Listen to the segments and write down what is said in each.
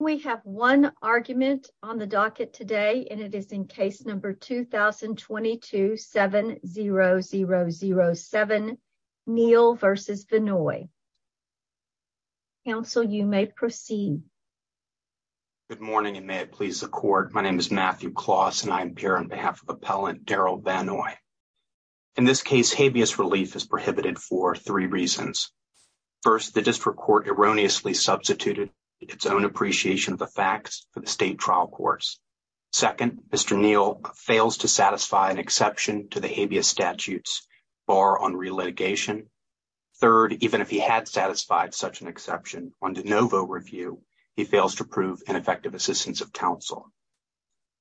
We have one argument on the docket today and it is in case number 2022-7007, Neal v. Vannoy. Counsel, you may proceed. Good morning and may it please the court. My name is Matthew Kloss and I am here on behalf of Appellant Daryl Vannoy. In this case, habeas relief is prohibited for three reasons. First, the district court erroneously substituted its own appreciation of the facts for the state trial courts. Second, Mr. Neal fails to satisfy an exception to the habeas statutes bar on relitigation. Third, even if he had satisfied such an exception under no vote review, he fails to prove ineffective assistance of counsel.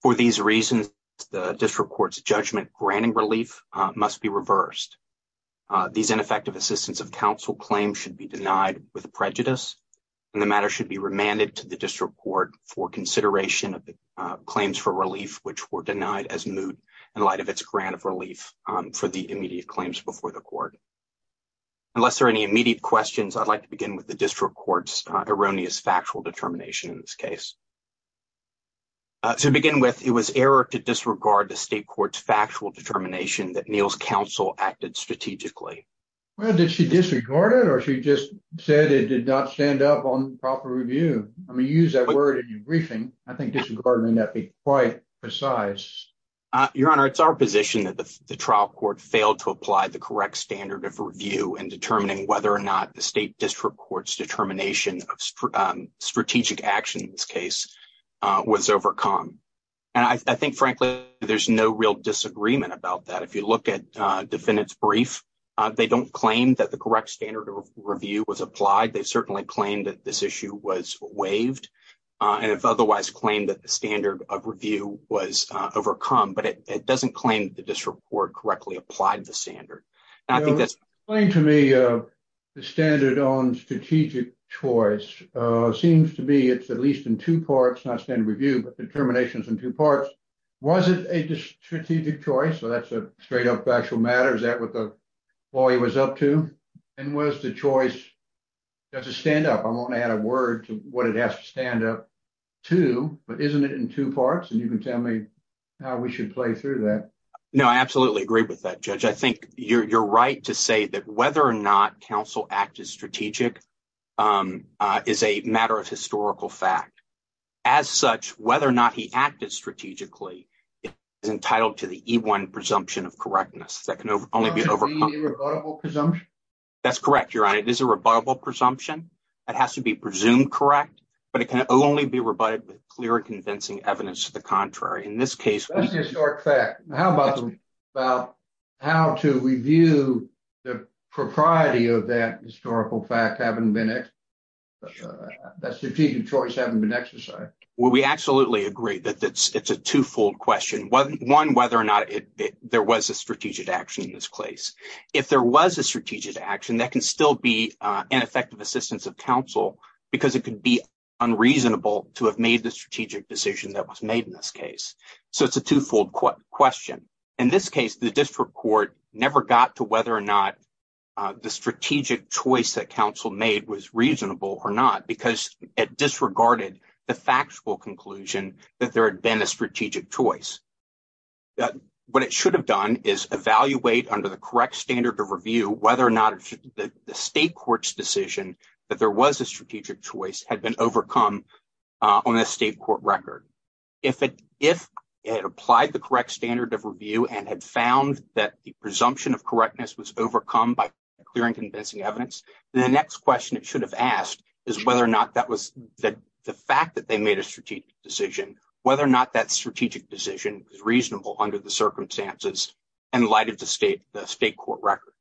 For these reasons, the district court's judgment granting relief must be reversed. These ineffective assistance of counsel claims should be denied with prejudice and the matter should be remanded to the district court for consideration of the claims for relief which were denied as moot in light of its grant of relief for the immediate claims before the court. Unless there are any immediate questions, I'd like to begin with the district court's erroneous factual determination in this case. To begin with, it was error to disregard the state court's determination of strategic action. I think frankly, there's no real disagreement about that. If you look at defendant's brief, they don't claim that the correct standard of review was applied. They certainly claimed that this issue was waived and if otherwise claimed that the standard of review was overcome, but it doesn't claim the district court correctly applied the standard. Explain to me the standard on strategic choice. It seems to be it's at least in two parts, not standard review, but determinations in two parts. Was it a strategic choice? Is that what the lawyer was up to? And was the choice to stand up? I won't add a word to what it has to stand up to, but isn't it in two parts? You can tell me how we should play through that. I absolutely agree with that, Judge. I think you're right to say that whether or not counsel acted strategic is a matter of historical fact. As such, whether or not he acted strategically is entitled to the E-1 presumption of correctness. That can only be overcome. Irrebuttable presumption? That's correct, Your Honor. It is a rebuttable presumption. It has to be presumed correct, but it can only be rebutted with clear and convincing evidence to the contrary. In this case... That's the historic fact. How about about how to review the propriety of that historical fact having been it, that strategic choice having been exercised? We absolutely agree that it's a twofold question. One, whether or not there was a strategic action in this case. If there was a strategic action, that can still be ineffective assistance of counsel because it could be unreasonable to have made the strategic decision that was made in this case. So it's a twofold question. In this case, the district court never got to whether or not the strategic choice that counsel made was reasonable or not because it disregarded the factual conclusion that there had been a strategic choice. What it should have done is evaluate under the correct standard of review whether or not the state court's decision that there was a strategic choice had been overcome on a state court record. If it applied the correct standard of review and had found that the presumption of correctness was overcome by clear and convincing evidence, the next question it should have asked is whether or not that was the fact that they made a strategic decision, whether or not that strategic decision was reasonable under the circumstances in light of the state court record.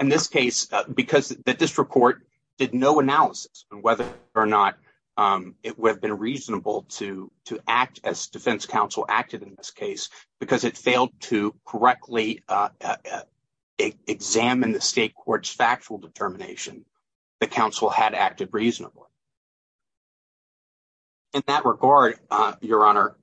In this case, because the district court did no analysis on whether or not it would have been reasonable to act as defense counsel acted in this case because it failed to correctly examine the state court's factual determination, the counsel had acted reasonably. In that regard, your honor,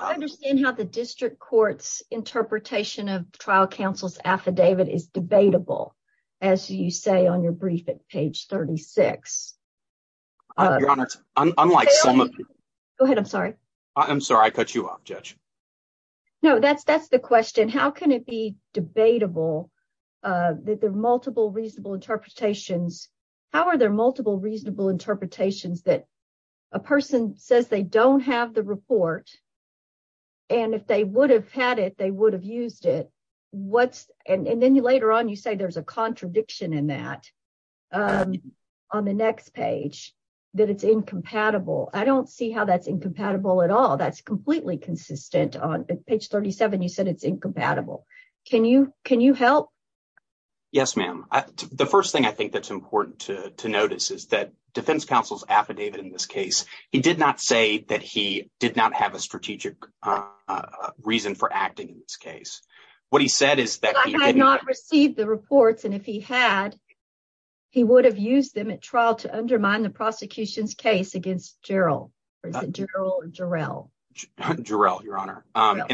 I understand how the district court's interpretation of trial counsel's affidavit is debatable as you say on your brief at page 36. Go ahead, I'm sorry. I'm sorry I cut you off, Judge. No, that's the question. How can it be debatable that there are multiple reasonable interpretations? How are there multiple reasonable interpretations that a person says they don't have the report and if they would have had it they would have used it? And then later on you say there's a contradiction in that on the next page that it's incompatible. I don't see how that's incompatible at all. That's completely consistent on page 37. You said it's incompatible. Can you help? Yes, ma'am. The first thing I think that's important to notice is that defense counsel's affidavit in this case, he did not say that he did not have a strategic reason for acting in what he said is that he did not receive the reports and if he had, he would have used them at trial to undermine the prosecution's case against Jarrell. In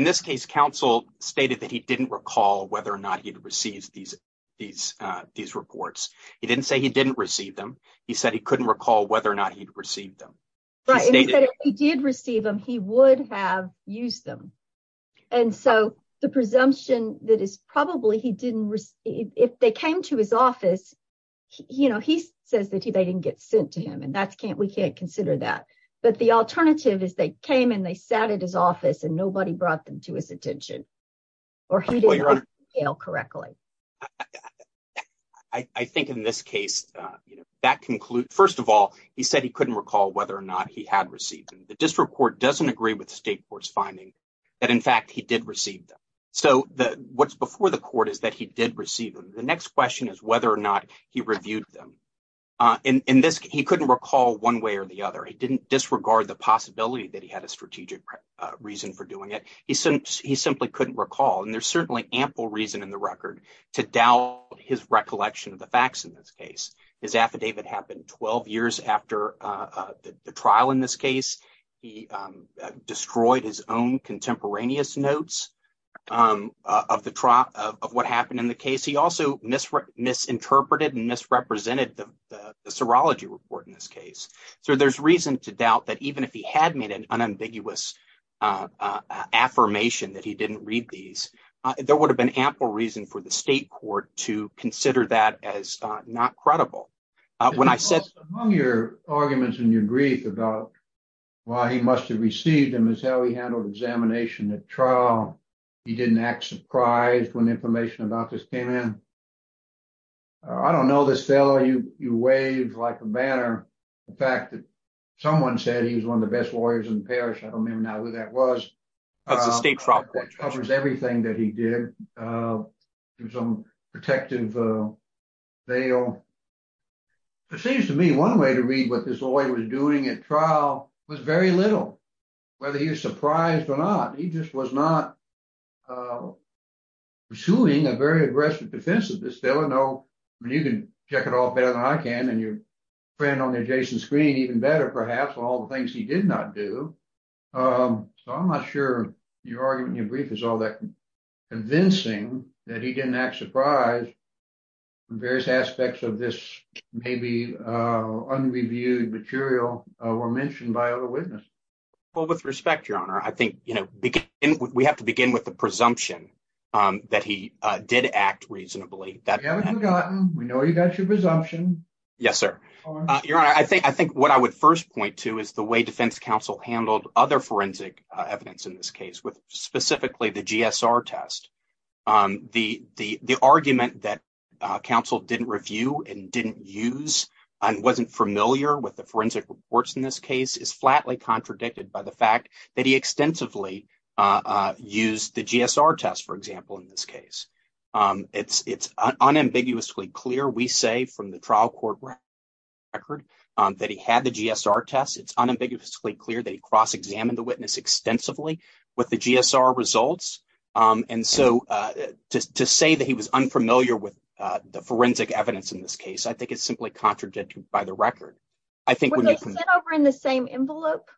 this case, counsel stated that he didn't recall whether or not he'd received these reports. He didn't say he didn't receive them. He said he couldn't recall whether or not he'd received them. He did receive them. He would have used them. And so the presumption that is probably he didn't receive, if they came to his office, he says that they didn't get sent to him and we can't consider that. But the alternative is they came and they sat at his office and nobody brought them to his attention or he didn't detail correctly. I think in this case, that concludes, first of all, he said he couldn't recall whether or not he had received them. The district court doesn't agree with the state court's finding that, in fact, he did receive them. So what's before the court is that he did receive them. The next question is whether or not he reviewed them. In this, he couldn't recall one way or the other. He didn't disregard the possibility that he had a strategic reason for doing it. He simply couldn't recall. And there's certainly ample reason in the after the trial in this case. He destroyed his own contemporaneous notes of what happened in the case. He also misinterpreted and misrepresented the serology report in this case. So there's reason to doubt that even if he had made an unambiguous affirmation that he didn't read these, there would have been ample reason for the state court to consider that as not credible. When I said- Among your arguments and your grief about why he must have received them is how he handled examination at trial. He didn't act surprised when information about this came in. I don't know this fellow. You waved like a banner. The fact that someone said he was one of the best lawyers in the parish, I don't remember now who that was, covers everything that he did. It was a protective veil. It seems to me one way to read what this lawyer was doing at trial was very little, whether he was surprised or not. He just was not pursuing a very aggressive defense of this. There were no, you can check it off better than I can and your friend on the adjacent screen even better perhaps on all the things he did not do. So I'm not sure your argument in your brief is all that convincing that he didn't act surprised in various aspects of this maybe unreviewed material were mentioned by other witnesses. Well, with respect, your honor, I think we have to begin with the presumption that he did act reasonably. We haven't forgotten. We know you got your presumption. Yes, sir. Your honor, I think what I would first point to is the way defense counsel handled other forensic evidence in this case with specifically the GSR test. The argument that counsel didn't review and didn't use and wasn't familiar with the forensic reports in this case is flatly contradicted by the fact that he extensively used the GSR test, for example, in this case. It's unambiguously clear. We say from the trial court record that he had the GSR test. It's unambiguously clear that he cross examined the witness extensively with the GSR results. And so to say that he was unfamiliar with the forensic evidence in this case, I think it's simply contradicted by the record. I think when they sent over in the same envelope,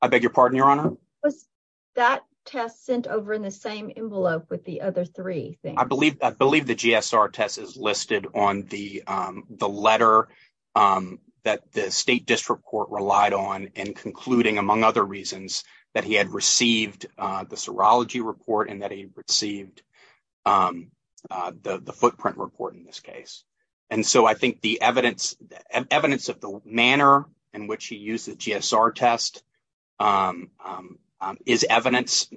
I beg I believe I believe the GSR test is listed on the the letter that the state district court relied on and concluding, among other reasons, that he had received the serology report and that he received the footprint report in this case. And so I think the evidence and evidence of the which he used the GSR test is evidence,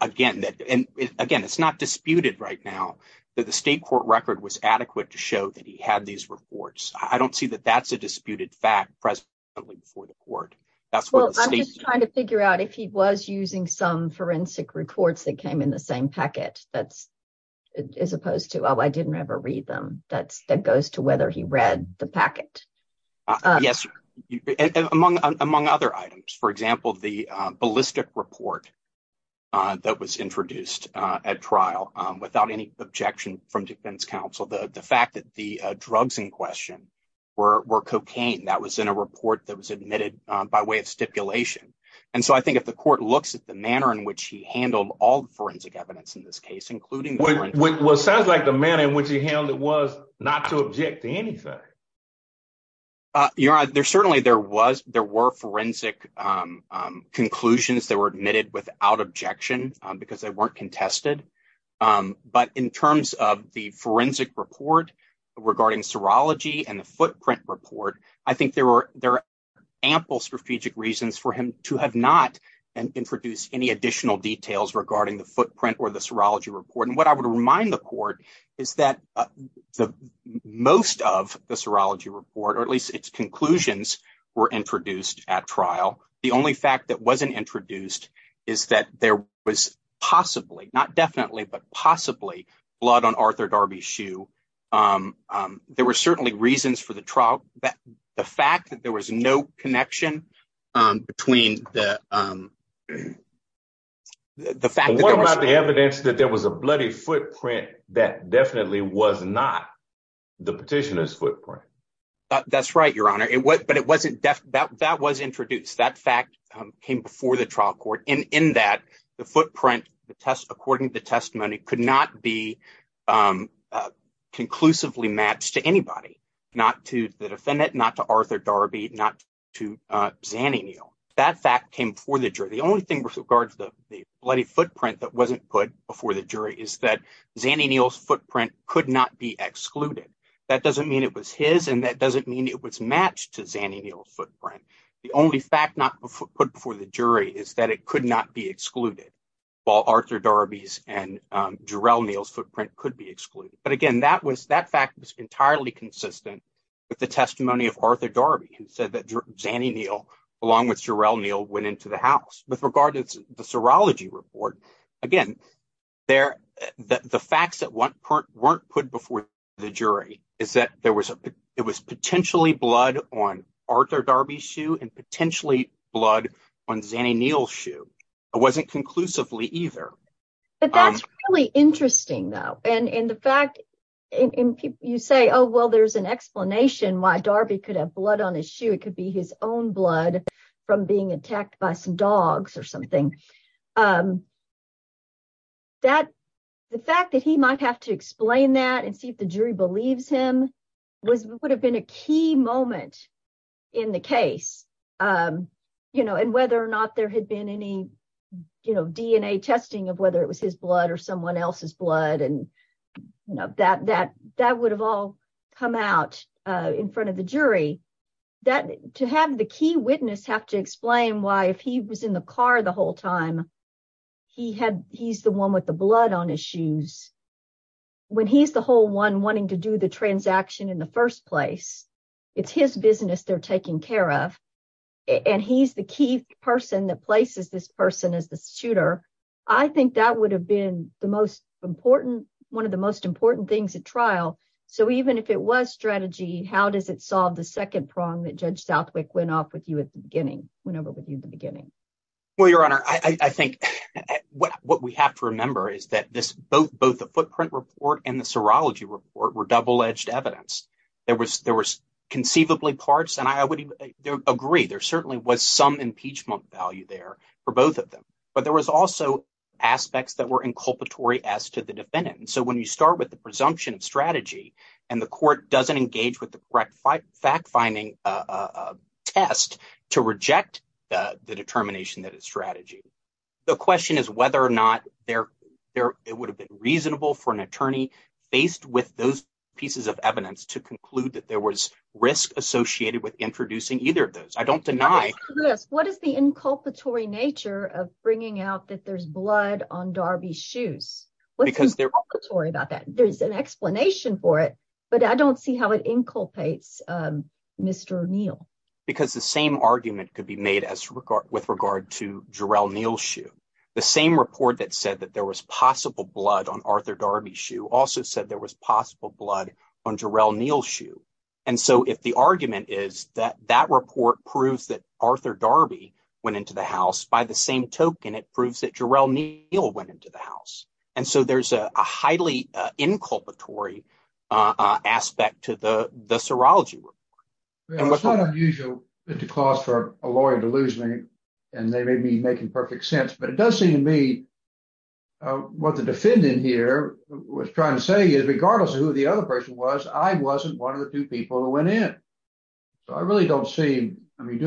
again, that and again, it's not disputed right now that the state court record was adequate to show that he had these reports. I don't see that that's a disputed fact presently before the court. That's what I'm trying to figure out if he was using some forensic reports that came in the same packet. That's as opposed to, oh, I didn't ever read them. That's that goes to whether he read the packet. Yes. Among among other items, for example, the ballistic report that was introduced at trial without any objection from defense counsel, the fact that the drugs in question were cocaine that was in a report that was admitted by way of stipulation. And so I think if the court looks at the manner in which he handled all forensic evidence in this case, there certainly there was there were forensic conclusions that were admitted without objection because they weren't contested. But in terms of the forensic report regarding serology and the footprint report, I think there were there are ample strategic reasons for him to have not introduced any additional details regarding the footprint or the serology report. What I would remind the court is that the most of the serology report or at least its conclusions were introduced at trial. The only fact that wasn't introduced is that there was possibly not definitely, but possibly blood on Arthur Darby's shoe. There were certainly reasons for the trial that the fact that there was no connection between the. The fact that the evidence that there was a bloody footprint that definitely was not the petitioner's footprint. That's right, your honor. But it wasn't that that was introduced. That fact came before the trial court in that the footprint, the test, according to the testimony, could not be conclusively matched to anybody, not to the defendant, not to Arthur Darby, not to Zannie Neal. That fact came before the jury. The only thing with regards to the bloody footprint that wasn't put before the jury is that Zannie Neal's footprint could not be excluded. That doesn't mean it was his and that doesn't mean it was matched to Zannie Neal's footprint. The only fact not put before the jury is that it could not be excluded, while Arthur Darby's and Jarrell Neal's footprint could be excluded. But again, that fact was entirely consistent with the testimony of Arthur Darby who said that Zannie Neal, along with Jarrell Neal, went into the house. With regard to the serology report, again, the facts that weren't put before the jury is that it was potentially blood on Arthur Darby's shoe and potentially blood on Zannie Neal's shoe. It wasn't conclusively either. But that's really interesting, though. And the fact you say, oh, well, there's an explanation why Darby could have blood on his shoe. It could be his own blood from being attacked by some dogs or something. The fact that he might have to explain that and see if the jury believes him would have been a key moment in the case. And whether or not there had been any DNA testing of whether it was his blood or someone else's blood. That would have all come out in front of the jury. To have the key witness have to explain why, if he was in the car the whole time, he's the one with the blood on his shoes. When he's the whole one wanting to do the transaction in the first place, it's his business they're taking care of. And he's the key person that places this person as the shooter. I think that would have been the most important, one of the most important things at trial. So even if it was strategy, how does it solve the second prong that Judge Southwick went off with you at the beginning, went over with you in the beginning? Well, Your Honor, I think what we have to remember is that both the footprint report and the serology report were double-edged evidence. There was conceivably parts, and I would agree there certainly was some impeachment value there for both of them. But there was also aspects that were inculpatory as to the defendant. So when you start with the presumption of strategy, and the court doesn't engage with the correct fact-finding test to reject the determination that it's strategy, the question is whether or not it would have been reasonable for an attorney faced with those pieces of evidence to conclude that there was risk associated with introducing either of those. I don't deny- What is the inculpatory nature of bringing out that there's blood on Darby's shoes? What's inculpatory about that? There's an explanation for it, but I don't see how it inculpates Mr. Neal. Because the same argument could be made with regard to Jarrell Neal's shoe. The same report that said that there was possible blood on Arthur Darby's shoe also said there was possible blood on Jarrell Neal's shoe. And so if the argument is that that report proves that Arthur Darby went into the house, by the same token it proves that Neal went into the house. And so there's a highly inculpatory aspect to the serology. It's not unusual, Mr. Claus, for a lawyer to lose me, and they may be making perfect sense, but it does seem to me what the defendant here was trying to say is regardless of who the other person was, I wasn't one of the two people who went in. So I really don't see- I mean,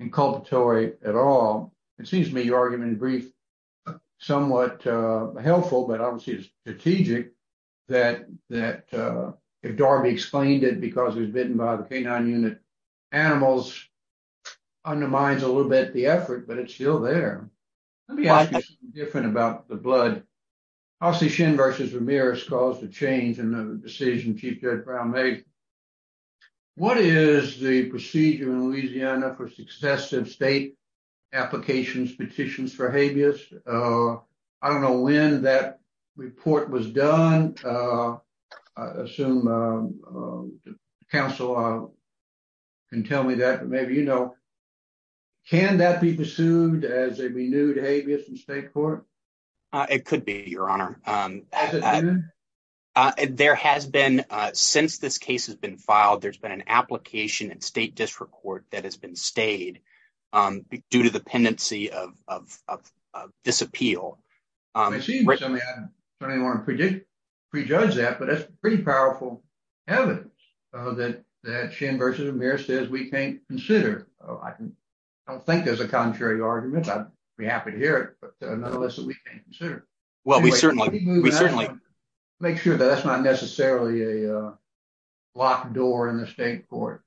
inculpatory at all. It seems to me your argument in brief, somewhat helpful, but obviously it's strategic, that if Darby explained it because it was bitten by the canine unit animals undermines a little bit the effort, but it's still there. Let me ask you something different about the blood. Hossie Shin versus Ramirez caused a change in the decision Chief Judge Brown made. What is the procedure in Louisiana for successive state applications, petitions for habeas? I don't know when that report was done. I assume counsel can tell me that, but maybe you know. Can that be pursued as a renewed habeas in state court? It could be, Your Honor. There has been, since this case has been filed, there's been an application in state district court that has been stayed due to the pendency of this appeal. I don't want to prejudge that, but that's pretty powerful evidence that Shin versus Ramirez says we can't consider. I don't think there's a contrary argument. I'd be happy to hear it, but nonetheless that we can't consider. Well, we certainly we certainly make sure that that's not necessarily a locked door in the state court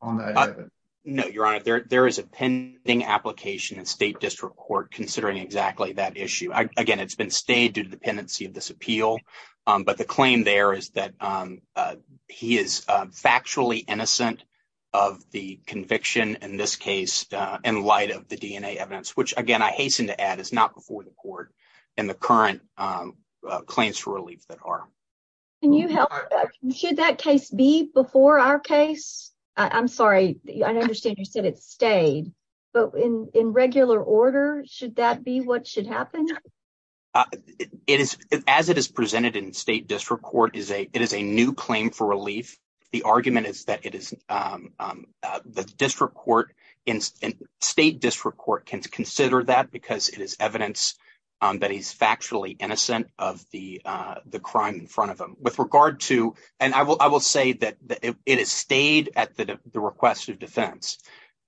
on that. No, Your Honor. There is a pending application in state district court considering exactly that issue. Again, it's been stayed due to the pendency of this appeal, but the claim there is that he is factually innocent of the conviction in this case in light of the DNA evidence, which again I hasten to add is not before the court and the current claims for relief that are. Can you help? Should that case be before our case? I'm sorry. I understand you said it stayed, but in regular order, should that be what should happen? As it is presented in state district court, it is a new claim for relief. The argument is that the district court in state district court can consider that because it is evidence that he's factually innocent of the crime in front of him. With regard to, and I will say that it is stayed at the request of defense.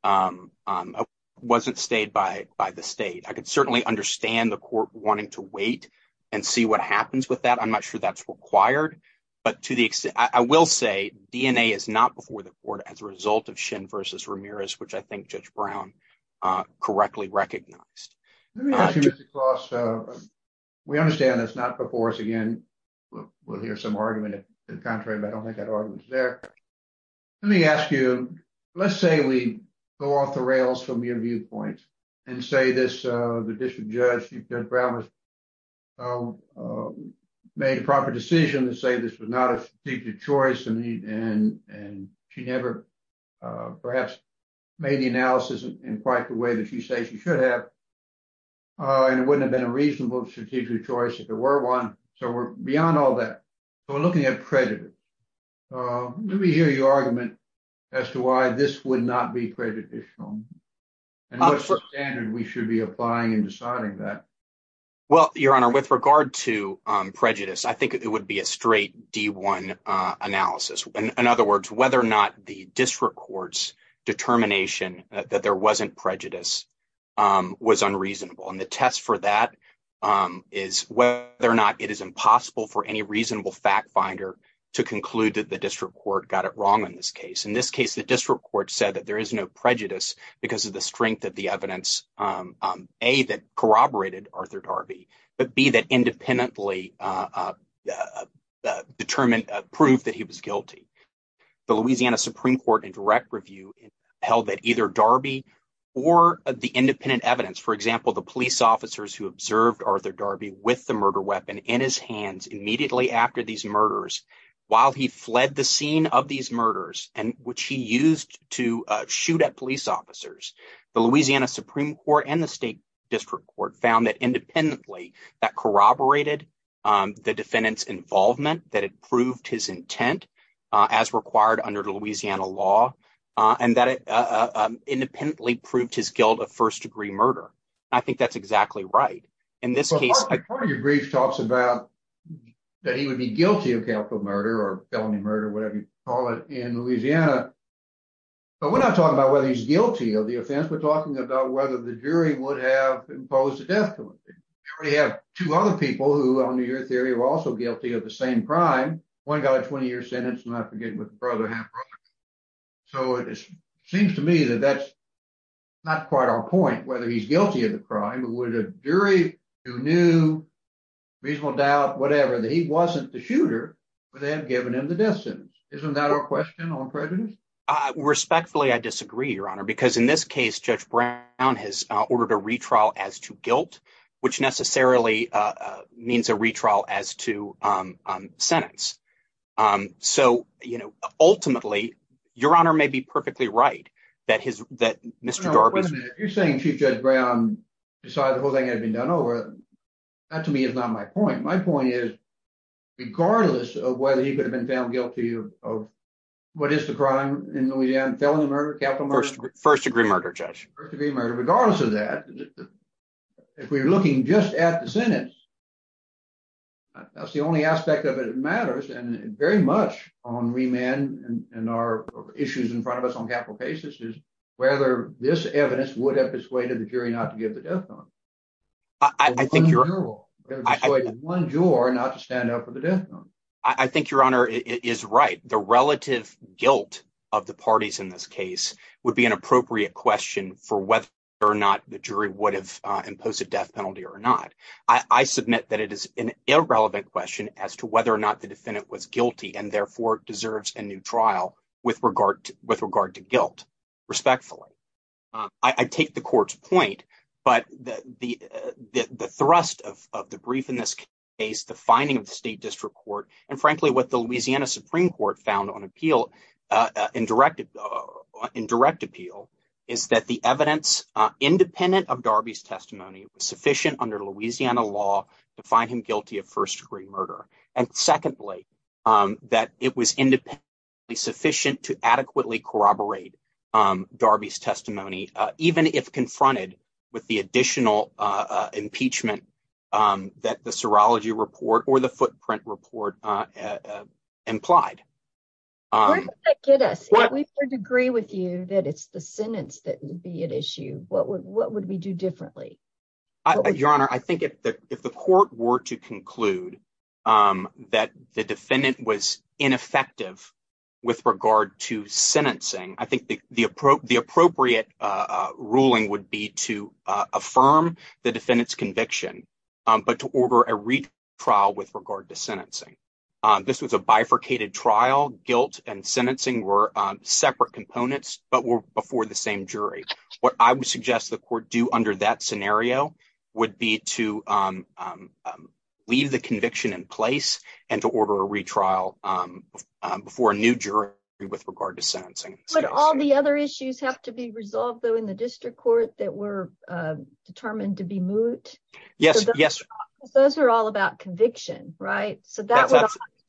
It wasn't stayed by the state. I could certainly understand the court wanting to wait and see what happens with that. I'm not sure that's required, but to the extent, I will say DNA is not before the court as a result of Shin versus Ramirez, which I think Judge Brown correctly recognized. We understand that's not before us again. We'll hear some argument in contrary, but I don't think that argument is there. Let me ask you, let's say we go off the rails from your viewpoint and say this, the district judge, Judge Brown, made a proper decision to say this was not a strategic choice. She never perhaps made the analysis in quite the way that you say she should have. It wouldn't have been a reasonable strategic choice if there were one. We're beyond all that. We're looking at credit. Let me hear your argument as to why this would not be credit additional. What standard we should be applying in deciding that? Well, Your Honor, with regard to prejudice, I think it would be a straight D1 analysis. In other words, whether or not the district court's determination that there wasn't prejudice was unreasonable. The test for that is whether or not it is impossible for any reasonable fact finder to conclude that the district court got it wrong in this case. In this case, the district court said that there is no prejudice because of the strength of the evidence, A, that corroborated Arthur Darby, but B, that independently determined proof that he was guilty. The Louisiana Supreme Court in direct review held that either Darby or the independent evidence, for example, the police officers who observed Arthur Darby with the murder weapon in his hands immediately after these murders, while he fled the scene of these murders, which he used to shoot at police officers. The Louisiana Supreme Court and the state district court found that independently that corroborated the defendant's involvement, that it proved his intent as required under the Louisiana law, and that it independently proved his guilt of first-degree murder. I think that's exactly right. In this case, your brief talks about that he would be guilty of capital murder or felony murder, whatever you call it in Louisiana, but we're not talking about whether he's guilty of the offense. We're talking about whether the jury would have imposed a death penalty. We have two other people who, under your theory, were also guilty of the same crime. One got a 20-year sentence, and I forget what the brother had. So it seems to me that that's not quite our point, whether he's guilty of the crime or would a jury who knew, reasonable doubt, whatever, that he wasn't the shooter, would they have given him the death sentence? Isn't that our question on prejudice? Respectfully, I disagree, your honor, because in this case, Judge Brown has ordered a retrial as to guilt, which necessarily means a retrial. Your honor may be perfectly right that Mr. Darby's... Wait a minute. You're saying Chief Judge Brown decided the whole thing had been done over. That, to me, is not my point. My point is, regardless of whether he could have been found guilty of what is the crime in Louisiana, felony murder, capital murder... First-degree murder, Judge. First-degree murder. Regardless of that, if we're looking just at the sentence, that's the only aspect of it that matters, and very much on remand and our issues in front of us on capital cases, is whether this evidence would have persuaded the jury not to give the death notice. One juror not to stand up for the death notice. I think, your honor, it is right. The relative guilt of the parties in this case would be an appropriate question for whether or not the jury would have imposed a death penalty or not. I submit that it is an irrelevant question as to whether or not the defendant was guilty, and therefore deserves a new trial with regard to guilt, respectfully. I take the court's point, but the thrust of the brief in this case, the finding of the State District Court, and frankly, what the Louisiana Supreme Court found on appeal, in direct appeal, is that the evidence, independent of Darby's testimony, was sufficient under Louisiana law to find him guilty of first-degree murder. And secondly, that it was independently sufficient to adequately corroborate Darby's testimony, even if confronted with the additional impeachment that the serology report or the footprint report implied. Where does that get us? If we could agree with you that it's the sentence that would be at issue, what would we do differently? Your honor, I think if the court were to conclude that the defendant was ineffective with regard to sentencing, I think the appropriate ruling would be to affirm the defendant's conviction, but to order a retrial with regard to sentencing. This was a bifurcated trial. Guilt and sentencing were separate components, but were before the same jury. What I would suggest the court do under that scenario would be to leave the conviction in place and to order a retrial before a new jury with regard to sentencing. But all the other issues have to be resolved, though, in the district court that were determined to be moot? Yes, yes. Those are all about conviction, right? So that would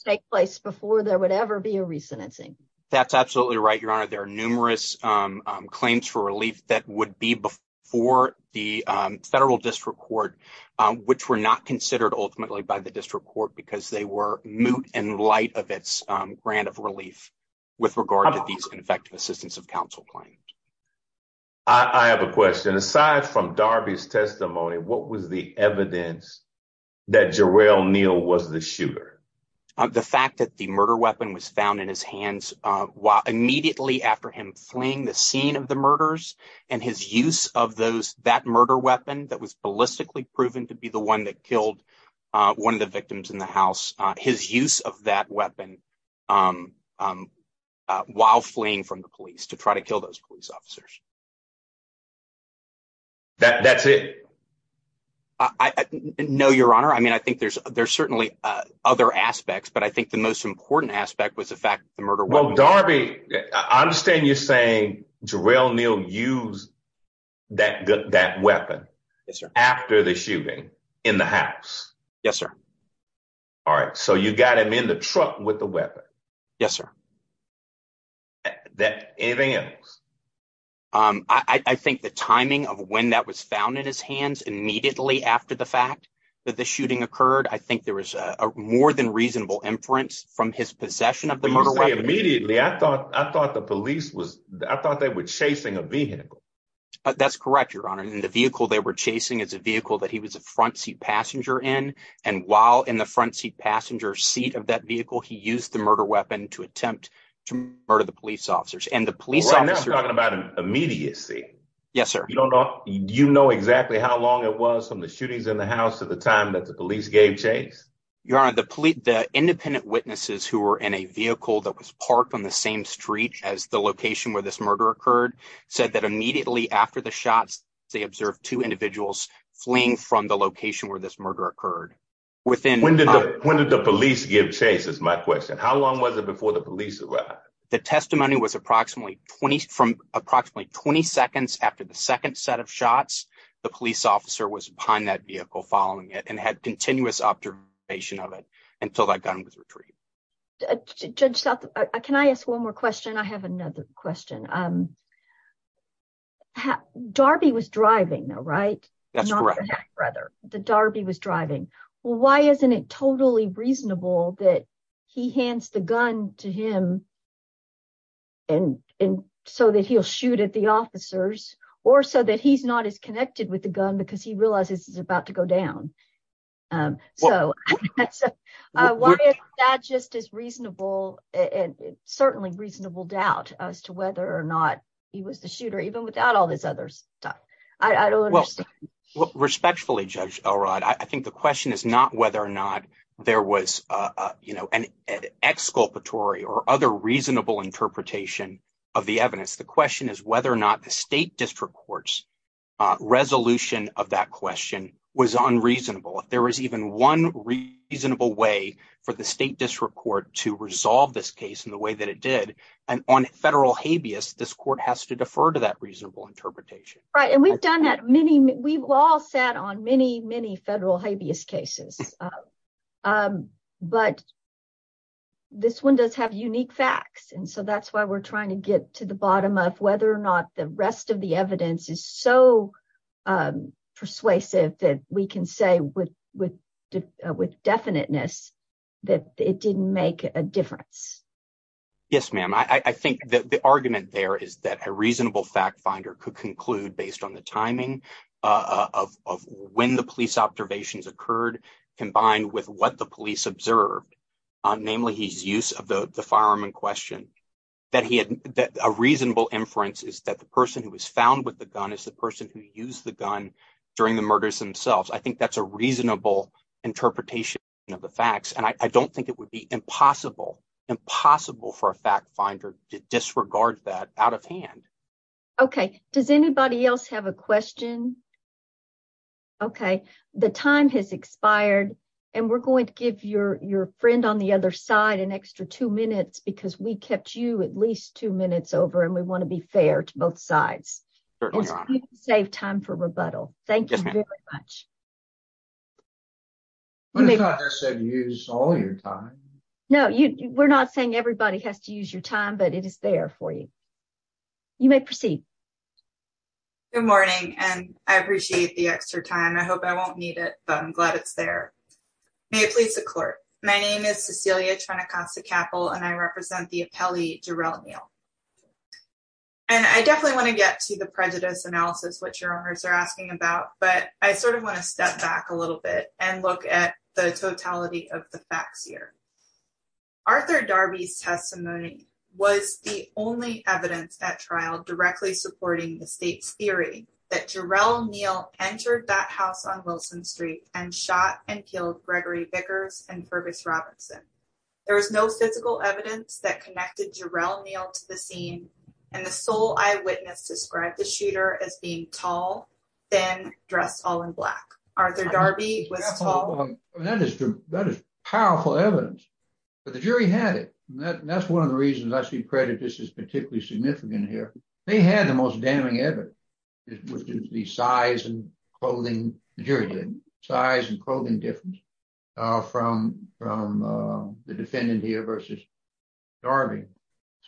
take place before there would ever be a re-sentencing. That's absolutely right, your honor. There are numerous claims for relief that would be before the federal district court, which were not considered ultimately by the district court because they were moot in light of its grant of relief with regard to these ineffective assistance of counsel claims. I have a question. Aside from Darby's testimony, what was the evidence that Jarrell Neal was the shooter? The fact that the murder weapon was found in his hands immediately after him fleeing the scene of the murders, and his use of that murder weapon that was ballistically proven to be the one that killed one of the victims in the house, his use of that weapon while fleeing from the police to try to kill those police officers. That's it? No, your honor. I mean, I think there's certainly other aspects, but I think the most important aspect was the fact that the murder weapon- Well, Darby, I understand you're saying Jarrell Neal used that weapon after the shooting in the house. Yes, sir. All right. So you got him in the truck with the weapon. Yes, sir. Anything else? I think the timing of when that was found in his hands immediately after the fact that the shooting occurred, I think there was a more than immediately. I thought the police was, I thought they were chasing a vehicle. That's correct, your honor. And the vehicle they were chasing is a vehicle that he was a front seat passenger in. And while in the front seat passenger seat of that vehicle, he used the murder weapon to attempt to murder the police officers and the police officers- Right now I'm talking about immediacy. Yes, sir. Do you know exactly how long it was from the shootings in the house to the time the police gave chase? Your honor, the independent witnesses who were in a vehicle that was parked on the same street as the location where this murder occurred said that immediately after the shots, they observed two individuals fleeing from the location where this murder occurred. When did the police give chase is my question. How long was it before the police arrived? The testimony was from approximately 20 seconds after the second set of shots, the police officer was behind that vehicle following it and had continuous observation of it until that gun was retrieved. Judge South, can I ask one more question? I have another question. Darby was driving though, right? That's correct. The Darby was driving. Well, why isn't it totally reasonable that he hands the gun to him and so that he'll shoot at the officers or so that he's connected with the gun because he realizes it's about to go down? So, why is that just as reasonable and certainly reasonable doubt as to whether or not he was the shooter even without all this other stuff? I don't understand. Respectfully, Judge Elrod, I think the question is not whether or not there was, you know, an exculpatory or other reasonable interpretation of the evidence. The question is whether or not the state district court's resolution of that question was unreasonable. If there was even one reasonable way for the state district court to resolve this case in the way that it did and on federal habeas, this court has to defer to that reasonable interpretation. Right, and we've done that many, we've all sat on many, many federal habeas cases, but this one does have unique facts and so that's why we're trying to get to the bottom of whether or not the rest of the evidence is so persuasive that we can say with definiteness that it didn't make a difference. Yes, ma'am, I think that the argument there is that a reasonable fact finder could conclude based on the timing of when the police observations occurred combined with what the police observed, namely his use of the firearm in question, that he had a reasonable inference is that the person who was found with the gun is the person who used the gun during the murders themselves. I think that's a reasonable interpretation of the facts and I don't think it would be impossible, impossible for a fact finder to disregard that out of hand. Okay, does anybody else have a question? Okay, the time has expired and we're going to give your friend on the other side an extra two minutes because we kept you at least two minutes over and we want to be fair to both sides. Save time for rebuttal. Thank you very much. I thought I said use all your time. No, we're not saying everybody has to use your time but it is there for you. You may proceed. Good morning and I appreciate the extra time. I hope I won't need it but I'm glad it's there. May it please the clerk. My name is Cecilia Trenacosta-Cappell and I represent the appellee Jarrell Neal and I definitely want to get to the prejudice analysis which your owners are asking about but I sort of want to step back a little bit and look at the totality of the facts here. Arthur Darby's testimony was the only evidence at trial directly supporting the state's theory that Jarrell Neal entered that house on Wilson Street and shot and killed Gregory Vickers and Fergus Robinson. There was no physical evidence that connected Jarrell Neal to the scene and the sole eyewitness described the shooter as being tall, thin, dressed all in black. Arthur Darby was tall. That is powerful evidence but the jury had it and that's one of the reasons I see prejudice is particularly significant here. They had the most damning evidence which is the size and clothing, the jury did, size and clothing difference from the defendant here versus Darby.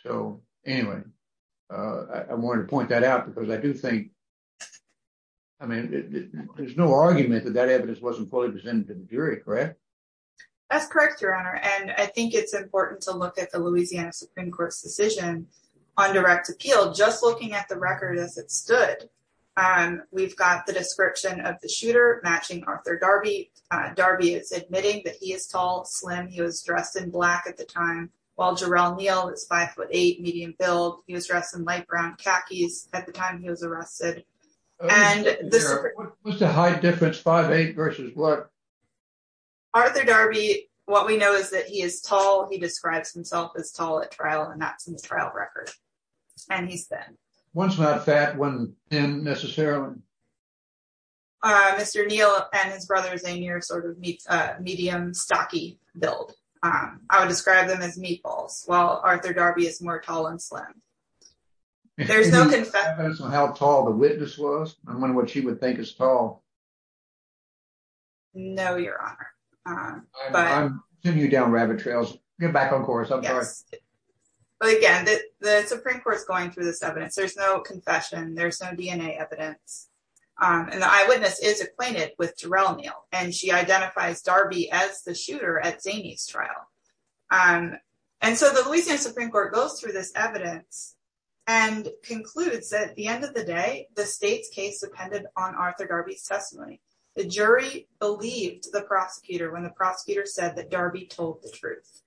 So anyway, I wanted to point that out because I do think I mean there's no argument that that evidence wasn't fully presented to the jury, correct? That's correct your honor and I think it's important to look at the Louisiana Supreme Court's decision on direct appeal just looking at the record as it stood. We've got the description of the shooter matching Arthur Darby. Darby is admitting that he is tall, slim, he was dressed in black at the time while Jarrell Neal is five foot eight, medium build, he was dressed in light brown khakis at the time he was arrested. What's the high difference five versus what? Arthur Darby, what we know is that he is tall. He describes himself as tall at trial and that's in his trial record and he's thin. One's not fat, one thin necessarily. Mr. Neal and his brother Zanier sort of meets a medium stocky build. I would describe them as meatballs while Arthur Darby is more tall and slim. There's no confessions on how tall the witness was. I don't know your honor. I'm sending you down rabbit trails. Get back on course. I'm sorry. But again the Supreme Court's going through this evidence. There's no confession. There's no DNA evidence and the eyewitness is acquainted with Jarrell Neal and she identifies Darby as the shooter at Zanier's trial. And so the Louisiana Supreme Court goes through this evidence and concludes that at the end of the day the state's case depended on Arthur Darby's testimony. The jury believed the prosecutor when the prosecutor said that Darby told the truth.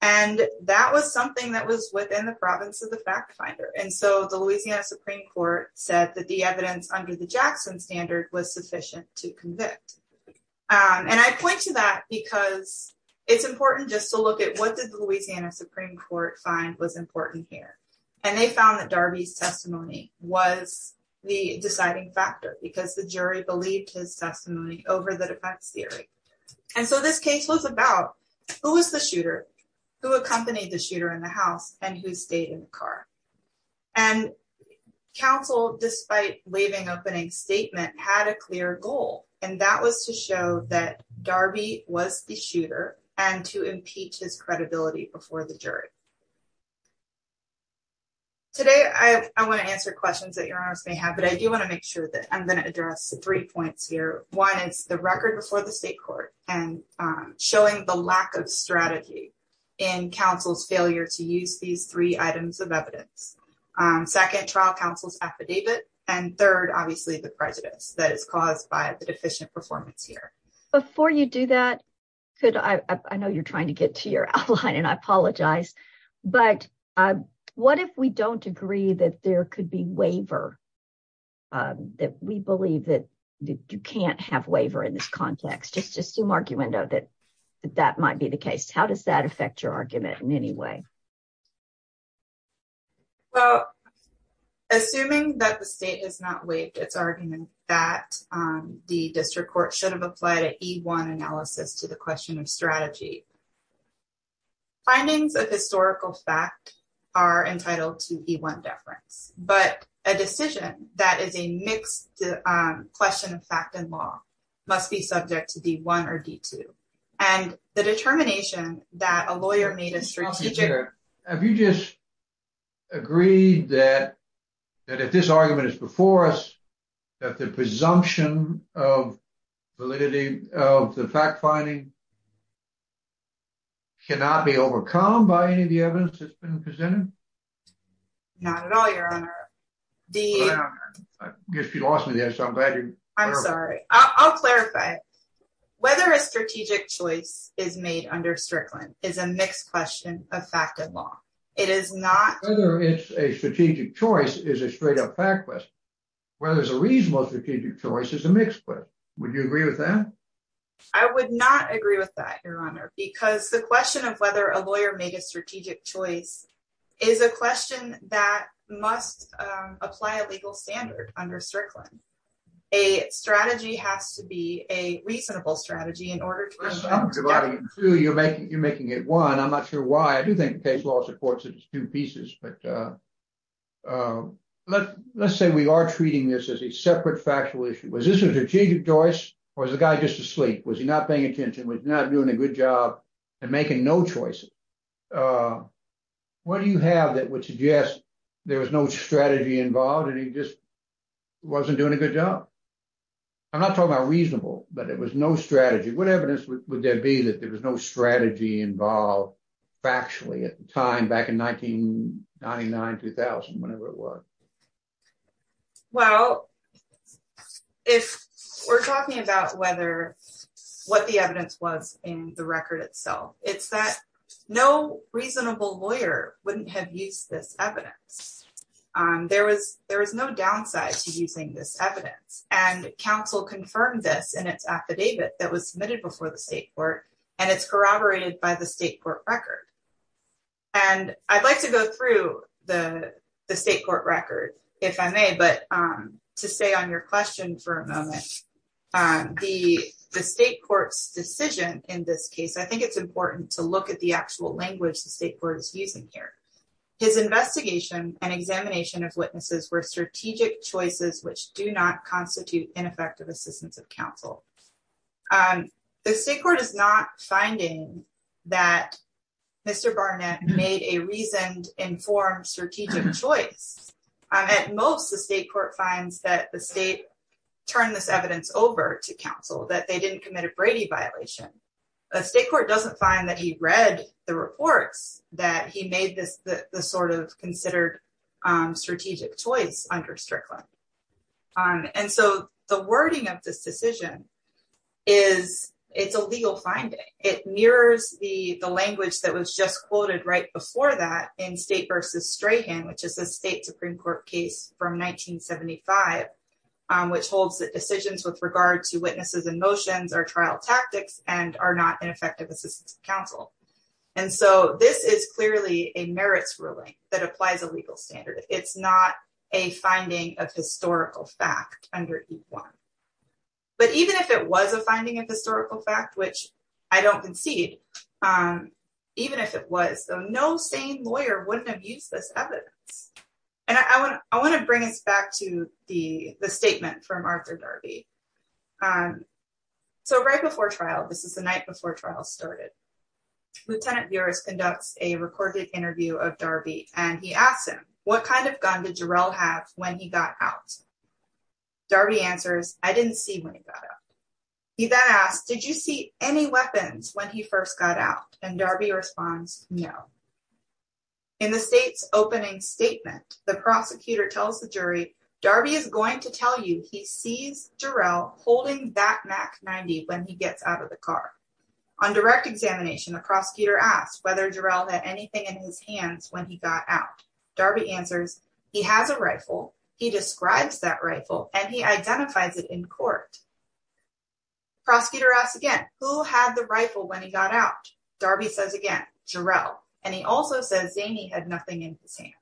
And that was something that was within the province of the fact finder. And so the Louisiana Supreme Court said that the evidence under the Jackson standard was sufficient to convict. And I point to that because it's important just to look at what did the Louisiana Supreme Court find was important here. And they found that Darby's testimony was the deciding factor because the jury believed his testimony over the defense theory. And so this case was about who was the shooter, who accompanied the shooter in the house, and who stayed in the car. And counsel despite waiving opening statement had a clear goal and that was to show that Darby was the shooter. Today I want to answer questions that your honors may have but I do want to make sure that I'm going to address three points here. One is the record before the state court and showing the lack of strategy in counsel's failure to use these three items of evidence. Second trial counsel's affidavit and third obviously the prejudice that is caused by the deficient performance here. Before you do that, I know you're trying to get to your outline and I apologize, but what if we don't agree that there could be waiver that we believe that you can't have waiver in this context? Just assume argument that that might be the case. How does that affect your argument in any way? Well assuming that the state has not waived its argument that the district court should have applied an E1 analysis to the question of strategy. Findings of historical fact are entitled to E1 deference, but a decision that is a mixed question of fact and law must be subject to D1 or D2. And the determination that a lawyer made a strategic... Have you just agreed that that if this argument is before us that the presumption of validity of the fact finding cannot be overcome by any of the evidence that's been presented? Not at all your honor. I guess you lost me there so I'm glad you're... I'm sorry. I'll clarify. Whether a strategic choice is made under Strickland is a mixed question of fact and law. It is not... Whether it's a strategic choice is a straight-up fact question. Whether it's a reasonable strategic choice is a mixed question. Would you agree with that? I would not agree with that your honor because the question of whether a lawyer made a strategic choice is a question that must apply a legal standard under Strickland. A strategy has to be a reasonable strategy in order to... I'm dividing it in two. You're making it one. I'm not sure why. I do think the case law supports it as two pieces, but let's say we are treating this as a separate factual issue. Was this a strategic choice or is the guy just asleep? Was he not paying attention? Was he not doing a good job and making no choices? What do you have that would suggest there was no strategy involved and he just wasn't doing a good job? I'm not talking about reasonable, but it was no strategy. What evidence would there be that there was no strategy involved factually at the time back in 1999-2000, whenever it was? Well, if we're talking about what the evidence was in the record itself, it's that no reasonable lawyer wouldn't have used this evidence. There was no downside to before the state court, and it's corroborated by the state court record. I'd like to go through the state court record, if I may, but to stay on your question for a moment. The state court's decision in this case, I think it's important to look at the actual language the state court is using here. His investigation and examination of witnesses were strategic choices, which do not constitute ineffective assistance of counsel. The state court is not finding that Mr. Barnett made a reasoned, informed, strategic choice. At most, the state court finds that the state turned this evidence over to counsel, that they didn't commit a Brady violation. The state court doesn't find that he read the reports that he made this sort of considered strategic choice under Strickland. The wording of this decision is a legal finding. It mirrors the language that was just quoted right before that in State v. Strahan, which is a state Supreme Court case from 1975, which holds that decisions with regard to witnesses and motions are trial tactics and are not ineffective assistance of counsel. This is clearly a merits ruling that applies a legal standard. It's not a finding of historical fact under E-1. But even if it was a finding of historical fact, which I don't concede, even if it was, no sane lawyer wouldn't have used this evidence. I want to bring us back to the statement from Arthur Darby. Right before trial, this is the night before trial started, Lieutenant Juris conducts a recorded interview of Darby and he asks him, what kind of gun did Jarrell have when he got out? Darby answers, I didn't see when he got out. He then asks, did you see any weapons when he first got out? And Darby responds, no. In the state's opening statement, the prosecutor tells the jury, Darby is going to tell you he sees Jarrell holding that Mac 90 when he gets out of the car. On direct examination, the prosecutor asked whether Jarrell had anything in his hands when he got out. Darby answers, he has a rifle. He describes that rifle and he identifies it in court. Prosecutor asks again, who had the rifle when he got out? Darby says again, Jarrell. And he also says Zaney had nothing in his hands.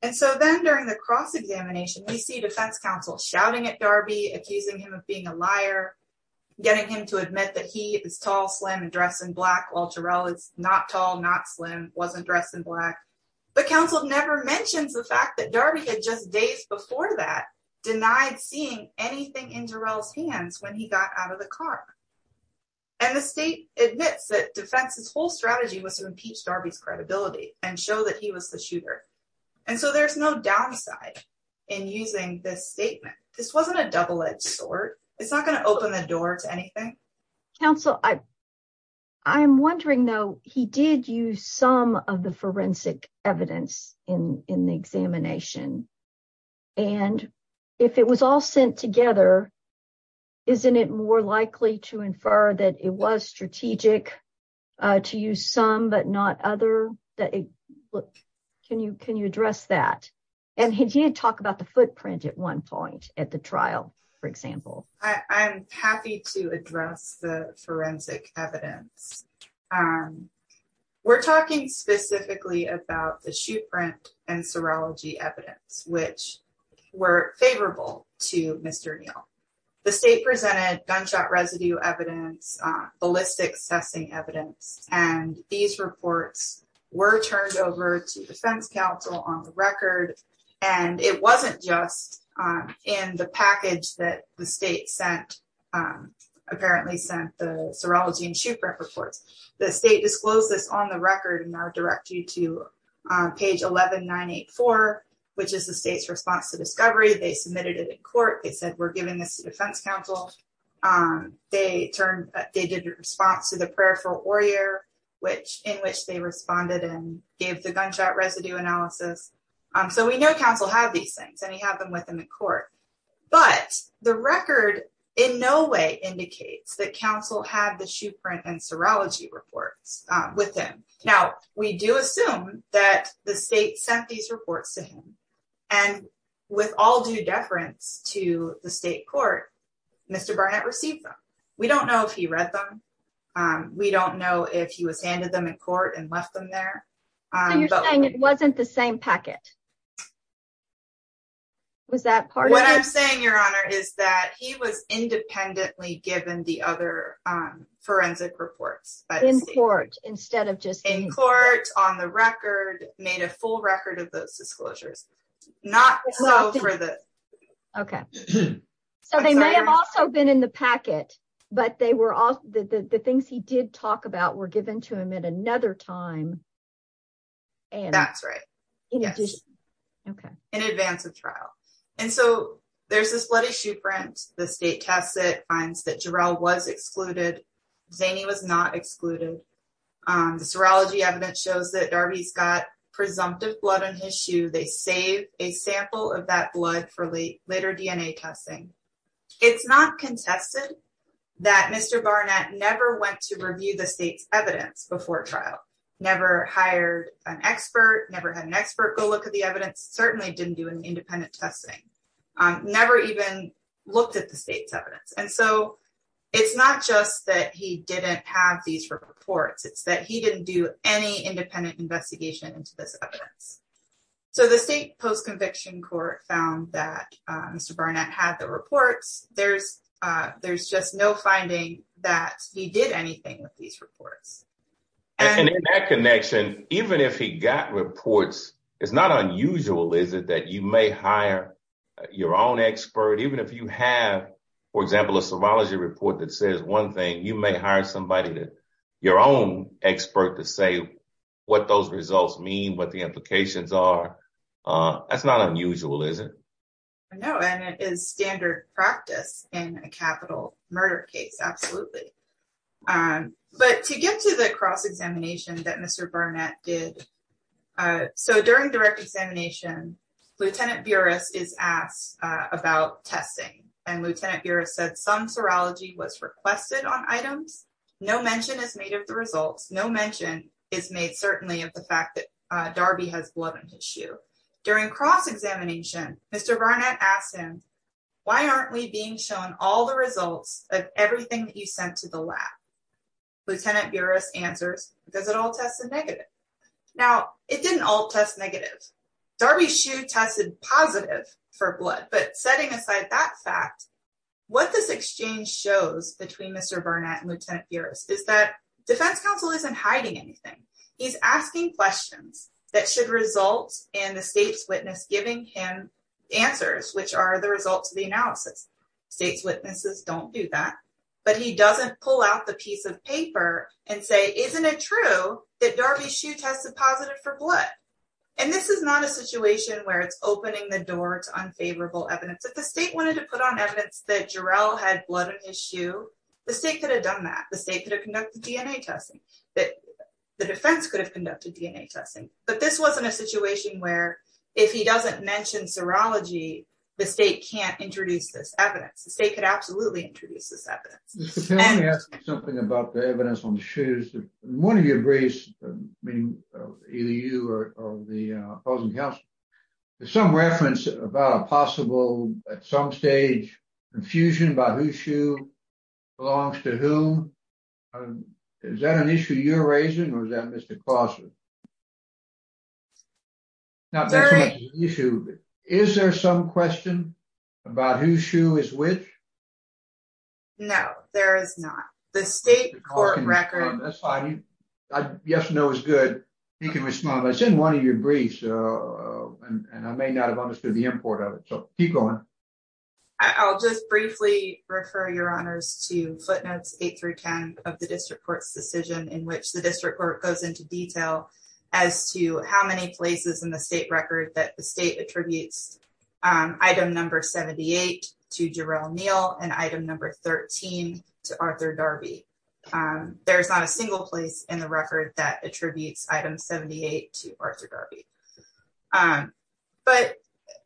And so then during the cross-examination, we see defense counsel shouting at Darby, accusing him of being a liar, getting him to admit that he is tall, slim, and dressed in black, while Jarrell is not tall, not slim, wasn't dressed in black. But counsel never mentions the fact that Darby had just days before that denied seeing anything in Jarrell's hands when he got out of the car. And the state admits that defense's whole strategy was to impeach Darby's that he was the shooter. And so there's no downside in using this statement. This wasn't a double-edged sword. It's not going to open the door to anything. Counsel, I'm wondering though, he did use some of the forensic evidence in the examination. And if it was all sent together, isn't it more likely to infer that it was strategic to use some but not other? Can you address that? And he did talk about the footprint at one point at the trial, for example. I'm happy to address the forensic evidence. We're talking specifically about the state presented gunshot residue evidence, ballistic testing evidence. And these reports were turned over to defense counsel on the record. And it wasn't just in the package that the state apparently sent the serology and shoot prep reports. The state disclosed this on the record. And I'll direct you to page 11984, which is the state's response to discovery. They submitted it in court. They said, we're giving this to defense counsel. They did a response to the prayer for Oyer, in which they responded and gave the gunshot residue analysis. So we know counsel had these things and he had them with him in court. But the record in no way indicates that counsel had the shoot print and serology reports with him. Now, we do assume that the state sent these reports to him. And with all due deference to the state court, Mr. Barnett received them. We don't know if he read them. We don't know if he was handed them in court and left them there. You're saying it wasn't the same packet? Was that part of it? What I'm saying, Your Honor, is that he was independently given the other forensic reports. In court, instead of just... In court, on the record, made a full record of those disclosures. Not so for the... Okay. So they may have also been in the packet, but the things he did talk about were given to him at another time. That's right. In advance of trial. And so there's this bloody shoot print. The state tests it, that Jarrell was excluded. Zaney was not excluded. The serology evidence shows that Darby's got presumptive blood on his shoe. They save a sample of that blood for later DNA testing. It's not contested that Mr. Barnett never went to review the state's evidence before trial. Never hired an expert. Never had an expert go look at the evidence. Certainly didn't do independent testing. Never even looked at the state's evidence. And so it's not just that he didn't have these reports. It's that he didn't do any independent investigation into this evidence. So the state post-conviction court found that Mr. Barnett had the reports. There's just no finding that he did anything with these reports. And in that connection, even if he got reports, it's not unusual, is it, that you may hire your own expert? Even if you have, for example, a serology report that says one thing, you may hire somebody, your own expert, to say what those results mean, what the implications are. That's not unusual, is it? No, and it is standard practice in a capital murder case. Absolutely. Um, but to get to the cross-examination that Mr. Barnett did, so during direct examination, Lieutenant Buras is asked about testing. And Lieutenant Buras said some serology was requested on items. No mention is made of the results. No mention is made, certainly, of the fact that Darby has blood and tissue. During cross-examination, Mr. Barnett asked him, why aren't we being shown all the results of everything that you sent to the lab? Lieutenant Buras answers, because it all tested negative. Now, it didn't all test negative. Darby's shoe tested positive for blood. But setting aside that fact, what this exchange shows between Mr. Barnett and Lieutenant Buras is that defense counsel isn't hiding anything. He's asking questions that should result in the analysis. State's witnesses don't do that. But he doesn't pull out the piece of paper and say, isn't it true that Darby's shoe tested positive for blood? And this is not a situation where it's opening the door to unfavorable evidence. If the state wanted to put on evidence that Jarrell had blood on his shoe, the state could have done that. The state could have conducted DNA testing. The defense could have conducted DNA testing. But this wasn't a situation where, if he doesn't mention serology, the state can't introduce this evidence. The state could absolutely introduce this evidence. Mr. Kelly asked me something about the evidence on the shoes. One of your briefs, meaning either you or the opposing counsel, there's some reference about a possible, at some stage, confusion about whose shoe belongs to whom. Is that an issue you're cross with? Is there some question about whose shoe is which? No, there is not. The state court record... That's fine. Yes, no is good. He can respond. But it's in one of your briefs. And I may not have understood the import of it. So keep going. I'll just briefly refer your honors to footnotes 8 through 10 of the district court's decision in which the district court goes into detail as to how many places in the state record that the state attributes item number 78 to Jarrell Neal and item number 13 to Arthur Darby. There's not a single place in the record that attributes item 78 to Arthur Darby. But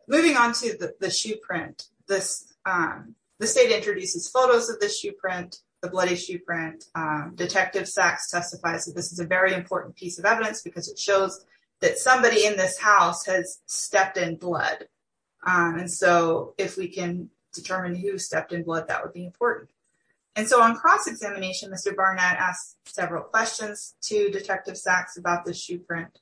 moving on to the shoe print, the state introduces photos of the shoe print, the bloody shoe print. Detective Sachs testifies that this is a very important piece of evidence because it shows that somebody in this house has stepped in blood. And so if we can determine who stepped in blood, that would be important. And so on cross-examination, Mr. Barnett asked several questions to Detective Sachs about the shoe print.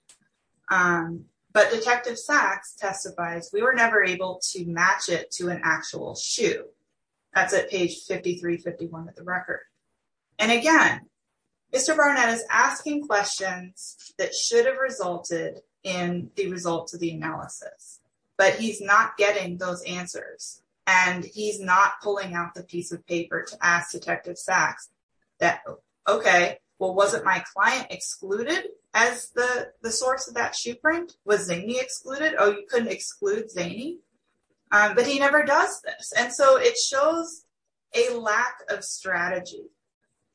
But Detective Sachs testifies, we were never able to match it to an actual shoe. That's at page 5351 of the record. And again, Mr. Barnett is asking questions that should have resulted in the results of the analysis. But he's not getting those answers. And he's not pulling out the piece of paper to ask Detective Sachs that, OK, well, wasn't my client excluded as the source of that shoe print? Was Zaney excluded? Oh, you couldn't exclude Zaney? But he never does this. And so it shows a lack of strategy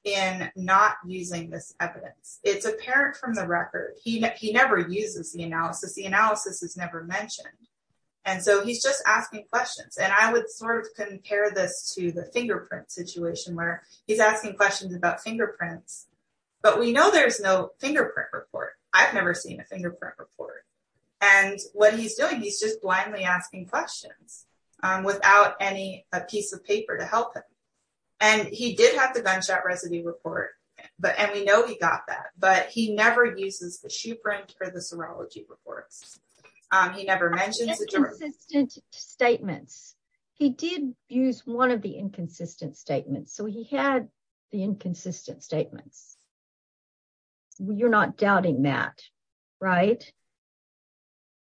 in not using this evidence. It's apparent from the record. He never uses the analysis. The analysis is never mentioned. And so he's just asking questions. And I would sort of compare this to the fingerprint situation where he's asking questions about fingerprints. But we know there's no fingerprint report. I've never seen a fingerprint report. And what he's doing, he's just blindly asking questions without any piece of paper to help him. And he did have the gunshot residue report. And we know he got that. But he never uses the shoe print for the serology reports. He never mentions it. The inconsistent statements. He did use one of the inconsistent statements. So he had the inconsistent statements. You're not doubting that, right?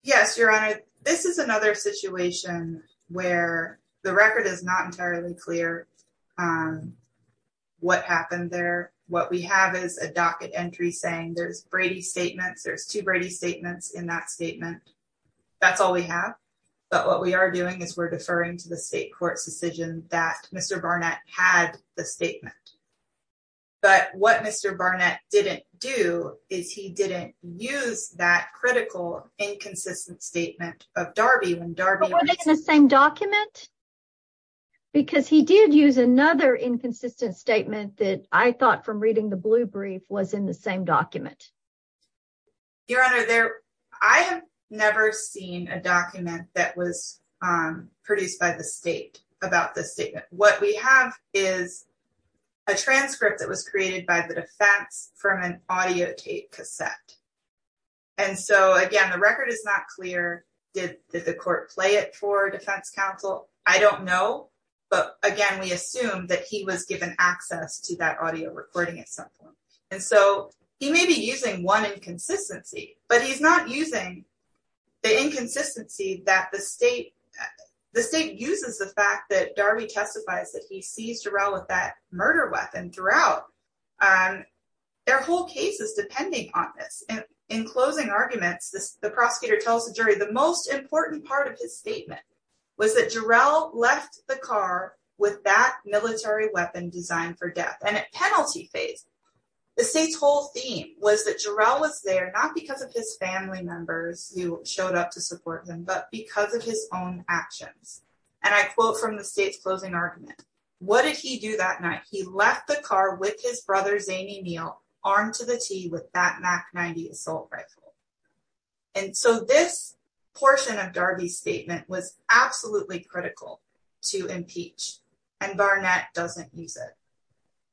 Yes, Your Honor. This is another situation where the record is not entirely clear what happened there. What we have is a docket entry saying there's Brady statements, there's two Brady statements in that statement. That's all we have. But what we are doing is deferring to the state court's decision that Mr. Barnett had the statement. But what Mr. Barnett didn't do is he didn't use that critical inconsistent statement of Darby. But were they in the same document? Because he did use another inconsistent statement that I thought from reading the blue brief was in the same document. Your Honor, I have never seen a document that was produced by the state about the statement. What we have is a transcript that was created by the defense from an audio tape cassette. And so again, the record is not clear. Did the court play it for defense counsel? I don't know. But again, we assume that he was given access to that audio recording at some point. And so he may be using one inconsistency, but he's not using the inconsistency that the state uses the fact that Darby testifies that he seized Jarrell with that murder weapon throughout. Their whole case is depending on this. And in closing arguments, the prosecutor tells the jury the most important part of his statement was that Jarrell left the car with that military weapon designed for death. And at penalty phase, the state's whole theme was that Jarrell was there, not because of his family members who showed up to support them, but because of his own actions. And I quote from the state's closing argument. What did he do that night? He left the car with his brother Zaney Neal armed to the T with that Mac 90 assault rifle. And so this portion of Darby's statement was absolutely critical to impeach and Barnett doesn't use it.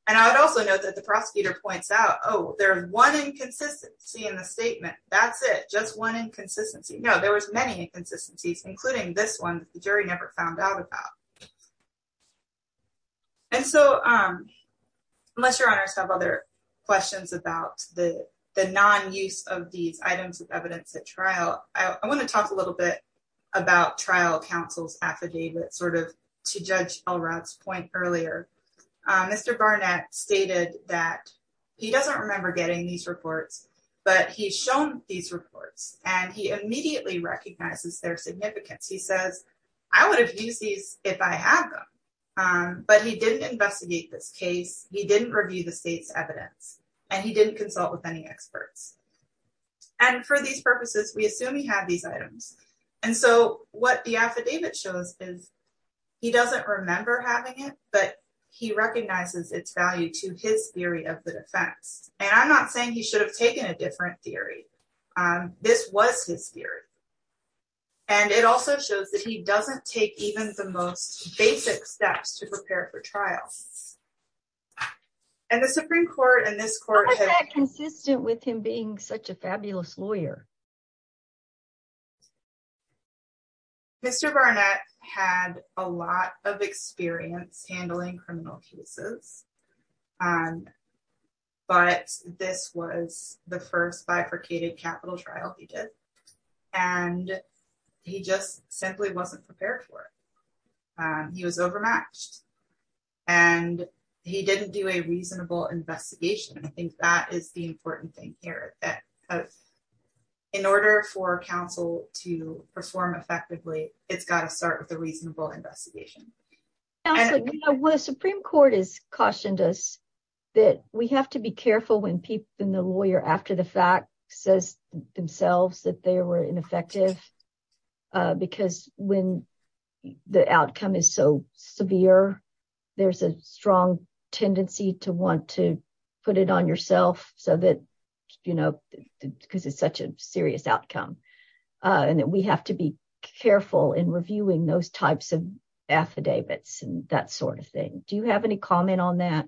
And I would also note that the prosecutor points out, oh, there's one inconsistency in the statement. That's it. Just one inconsistency. No, there was many inconsistencies, including this one, the jury never found out about. And so unless your honors have other questions about the, the non-use of these items of evidence at trial, I want to talk a little bit about trial counsel's affidavit sort of to judge Elrod's point earlier, Mr. Barnett stated that he doesn't remember getting these reports, but he's shown these reports and he immediately recognizes their significance. He says, I would have used these if I had them, but he didn't this case. He didn't review the state's evidence and he didn't consult with any experts. And for these purposes, we assume he had these items. And so what the affidavit shows is he doesn't remember having it, but he recognizes its value to his theory of the defense. And I'm not saying he should have taken a different theory. This was his theory. And it also shows that he was, and the Supreme court and this court had consistent with him being such a fabulous lawyer. Mr. Barnett had a lot of experience handling criminal cases, but this was the first bifurcated capital trial he did. And he just simply wasn't prepared for it. He was overmatched and he didn't do a reasonable investigation. I think that is the important thing here that in order for counsel to perform effectively, it's got to start with a reasonable investigation. The Supreme court has cautioned us that we have to be careful when people in the is so severe. There's a strong tendency to want to put it on yourself so that, you know, because it's such a serious outcome and that we have to be careful in reviewing those types of affidavits and that sort of thing. Do you have any comment on that?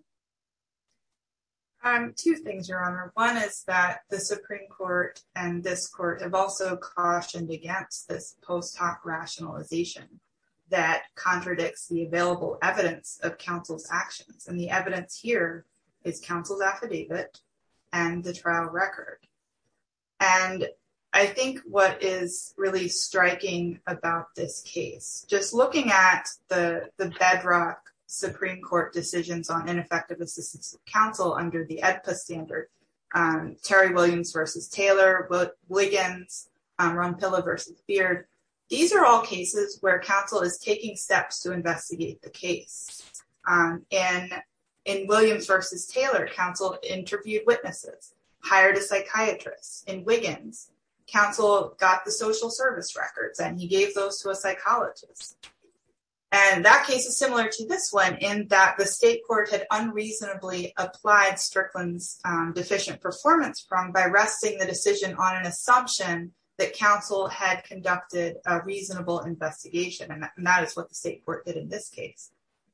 Two things, your honor. One is that the Supreme court and this court have also cautioned against post hoc rationalization that contradicts the available evidence of counsel's actions. And the evidence here is counsel's affidavit and the trial record. And I think what is really striking about this case, just looking at the bedrock Supreme court decisions on ineffective counsel under the EDPA standard, Terry Williams versus Taylor, Wiggins, Ronpilla versus Beard. These are all cases where counsel is taking steps to investigate the case. And in Williams versus Taylor, counsel interviewed witnesses, hired a psychiatrist. In Wiggins, counsel got the social service records and he gave those to a psychologist. And that case is similar to this one in that the state court had unreasonably applied Strickland's deficient performance by resting the decision on an assumption that counsel had conducted a reasonable investigation. And that is what the state court did in this case,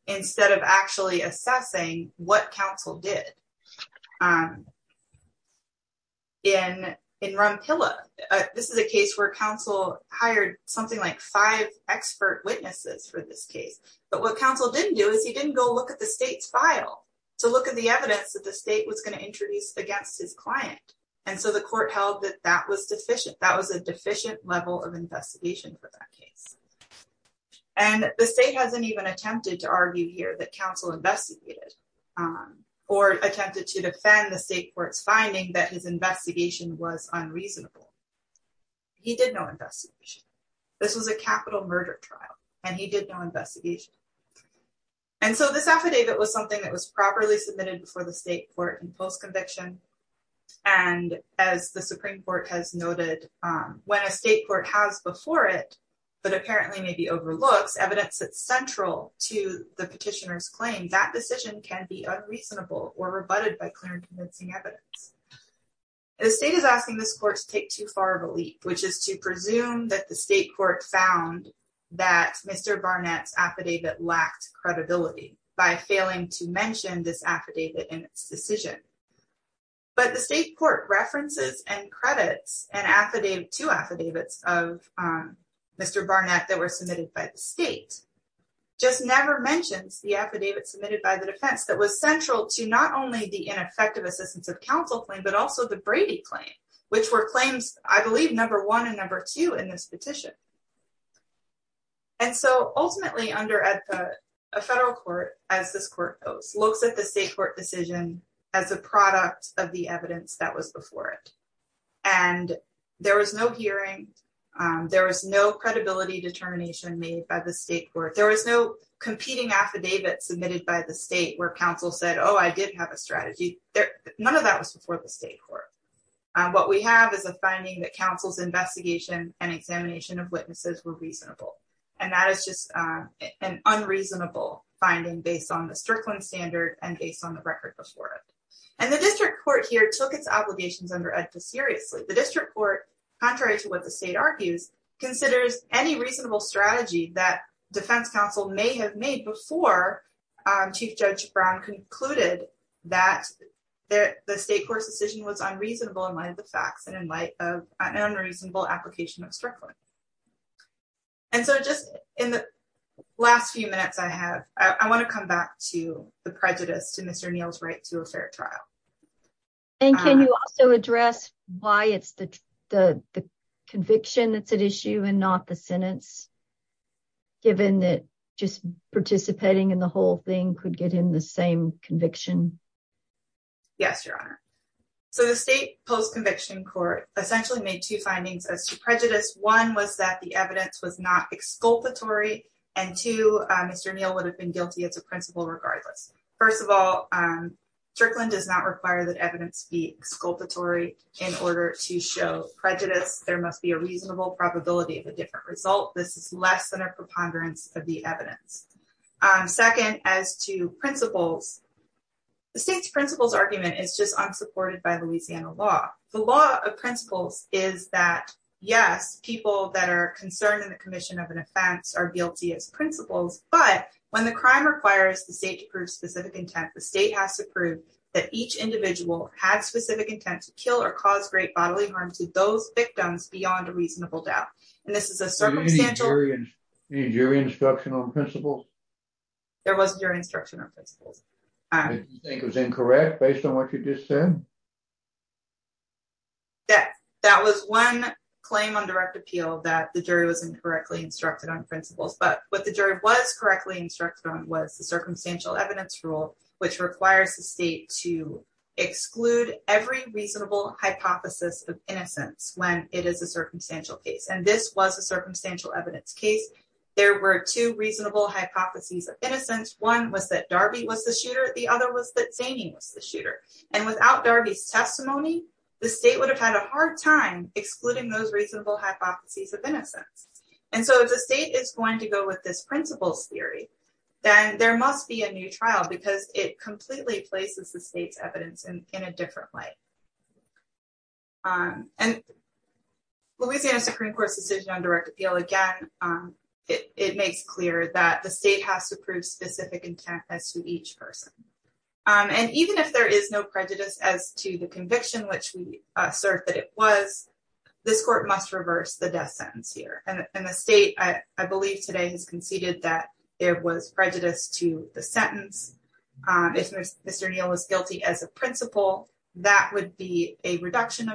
instead of actually assessing what counsel did. In Ronpilla, this is a case where counsel hired something like five expert witnesses for this case. But what counsel didn't do is he didn't go look at the state's file to look at the evidence that the state was going to introduce against his client. And so the court held that that was deficient. That was a deficient level of investigation for that case. And the state hasn't even attempted to argue here that counsel investigated or attempted to defend the state court's finding that his investigation was unreasonable. He did no investigation. This was a capital murder trial and he did no investigation. And so this affidavit was something that was properly submitted for the state court in post-conviction. And as the Supreme to the petitioner's claim, that decision can be unreasonable or rebutted by clear and convincing evidence. The state is asking this court to take too far of a leap, which is to presume that the state court found that Mr. Barnett's affidavit lacked credibility by failing to mention this affidavit in its decision. But the state court references and credits an affidavit, two affidavits of Mr. Barnett that were submitted by the state, just never mentions the affidavit submitted by the defense that was central to not only the ineffective assistance of counsel claim, but also the Brady claim, which were claims, I believe, number one and number two in this petition. And so ultimately under a federal court, as this court looks at the state court decision as a product of the evidence that was before it. And there was no hearing. There was no credibility determination made by the state court. There was no competing affidavit submitted by the state where counsel said, oh, I did have a strategy. None of that was before the state court. What we have is a finding that counsel's investigation and examination of witnesses were reasonable. And that is just an unreasonable finding based on the Strickland standard and based on the record before it. And the district court here took its obligations under EDFA seriously. The district court, contrary to what the state argues, considers any reasonable strategy that defense counsel may have made before Chief Judge Brown concluded that the state court's decision was unreasonable in light of the facts and in light of an unreasonable application of Strickland. And so just in the last few minutes I have, I want to come back to the prejudice to Mr. Neal's right to a fair trial. And can you also address why it's the conviction that's at issue and not the sentence, given that just participating in the whole thing could get him the same conviction? Yes, Your Honor. So the state post-conviction court essentially made two findings as to prejudice. One was that the evidence was not exculpatory. And two, Mr. Neal would have been guilty as a principal regardless. First of all, Strickland does not require that evidence be exculpatory in order to show prejudice. There must be a reasonable probability of a different result. This is less than a preponderance of the evidence. Second, as to principles, the state's principles argument is just unsupported by Louisiana law. The law of principles is that, yes, people that are concerned in the commission of an offense are guilty as principals, but when the crime requires the state to prove specific intent, the state has to prove that each individual had specific intent to kill or cause great bodily harm to those victims beyond a reasonable doubt. And this is a circumstantial- Any jury instruction on principles? There wasn't jury instruction on principles. You think it was incorrect based on what you just said? That was one claim on direct appeal that the jury was incorrectly instructed on principles, but what the jury was correctly instructed on was the circumstantial evidence rule, which requires the state to exclude every reasonable hypothesis of innocence when it is a circumstantial case. And this was a circumstantial evidence case. There were two reasonable hypotheses of innocence. One was that Darby was the shooter. The other was that Zanin was the shooter. And without Darby's testimony, the state would have had a hard time excluding those reasonable hypotheses of innocence. And so if the state is going to go with this principles theory, then there must be a new trial because it completely places the state's evidence in a different light. And Louisiana Supreme Court's decision on direct appeal, again, it makes clear that the state has to prove specific intent as to each person. And even if there is no prejudice as to the conviction, which we assert that it was, this court must reverse the death sentence here. And the state, I believe, today has conceded that there was prejudice to the sentence. If Mr. Neal was guilty as a principal, that would be a mitigating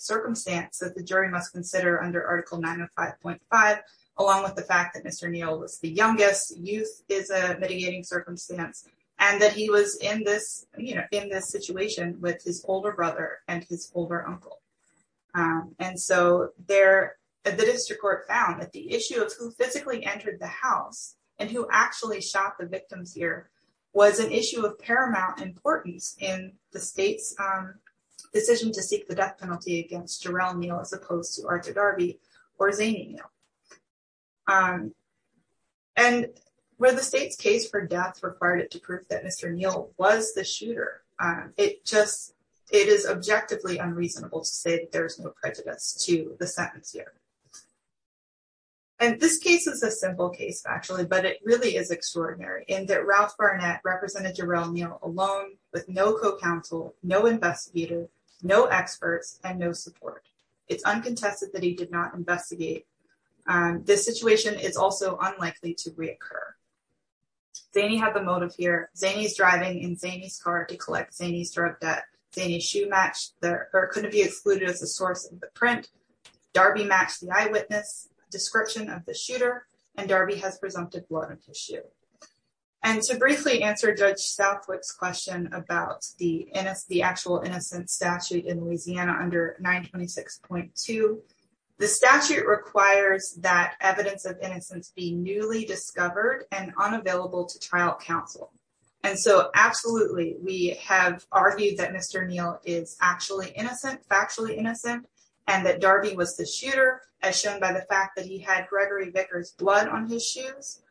circumstance that the jury must consider under Article 905.5, along with the fact that Mr. Neal was the youngest, youth is a mitigating circumstance, and that he was in this situation with his older brother and his older uncle. And so the district court found that the issue of who physically entered the house and who actually shot the victims here was an issue of against Jarell Neal, as opposed to Arthur Darby or Zaney Neal. And where the state's case for death required it to prove that Mr. Neal was the shooter, it just, it is objectively unreasonable to say that there's no prejudice to the sentence here. And this case is a simple case, actually, but it really is extraordinary in that Ralph Barnett represented Jarell Neal alone with no counsel, no investigator, no experts, and no support. It's uncontested that he did not investigate. This situation is also unlikely to reoccur. Zaney had the motive here. Zaney's driving in Zaney's car to collect Zaney's drug debt. Zaney's shoe match couldn't be excluded as a source of the print. Darby matched the eyewitness description of the shooter, and Darby has presumptive blood on his shoe. And to briefly answer Judge Southwick's question about the actual innocence statute in Louisiana under 926.2, the statute requires that evidence of innocence be newly discovered and unavailable to trial counsel. And so absolutely, we have argued that Mr. Neal is actually innocent, factually innocent, and that Darby was the shooter, as shown by the fact that he had Gregory Vickers' blood on his shoes.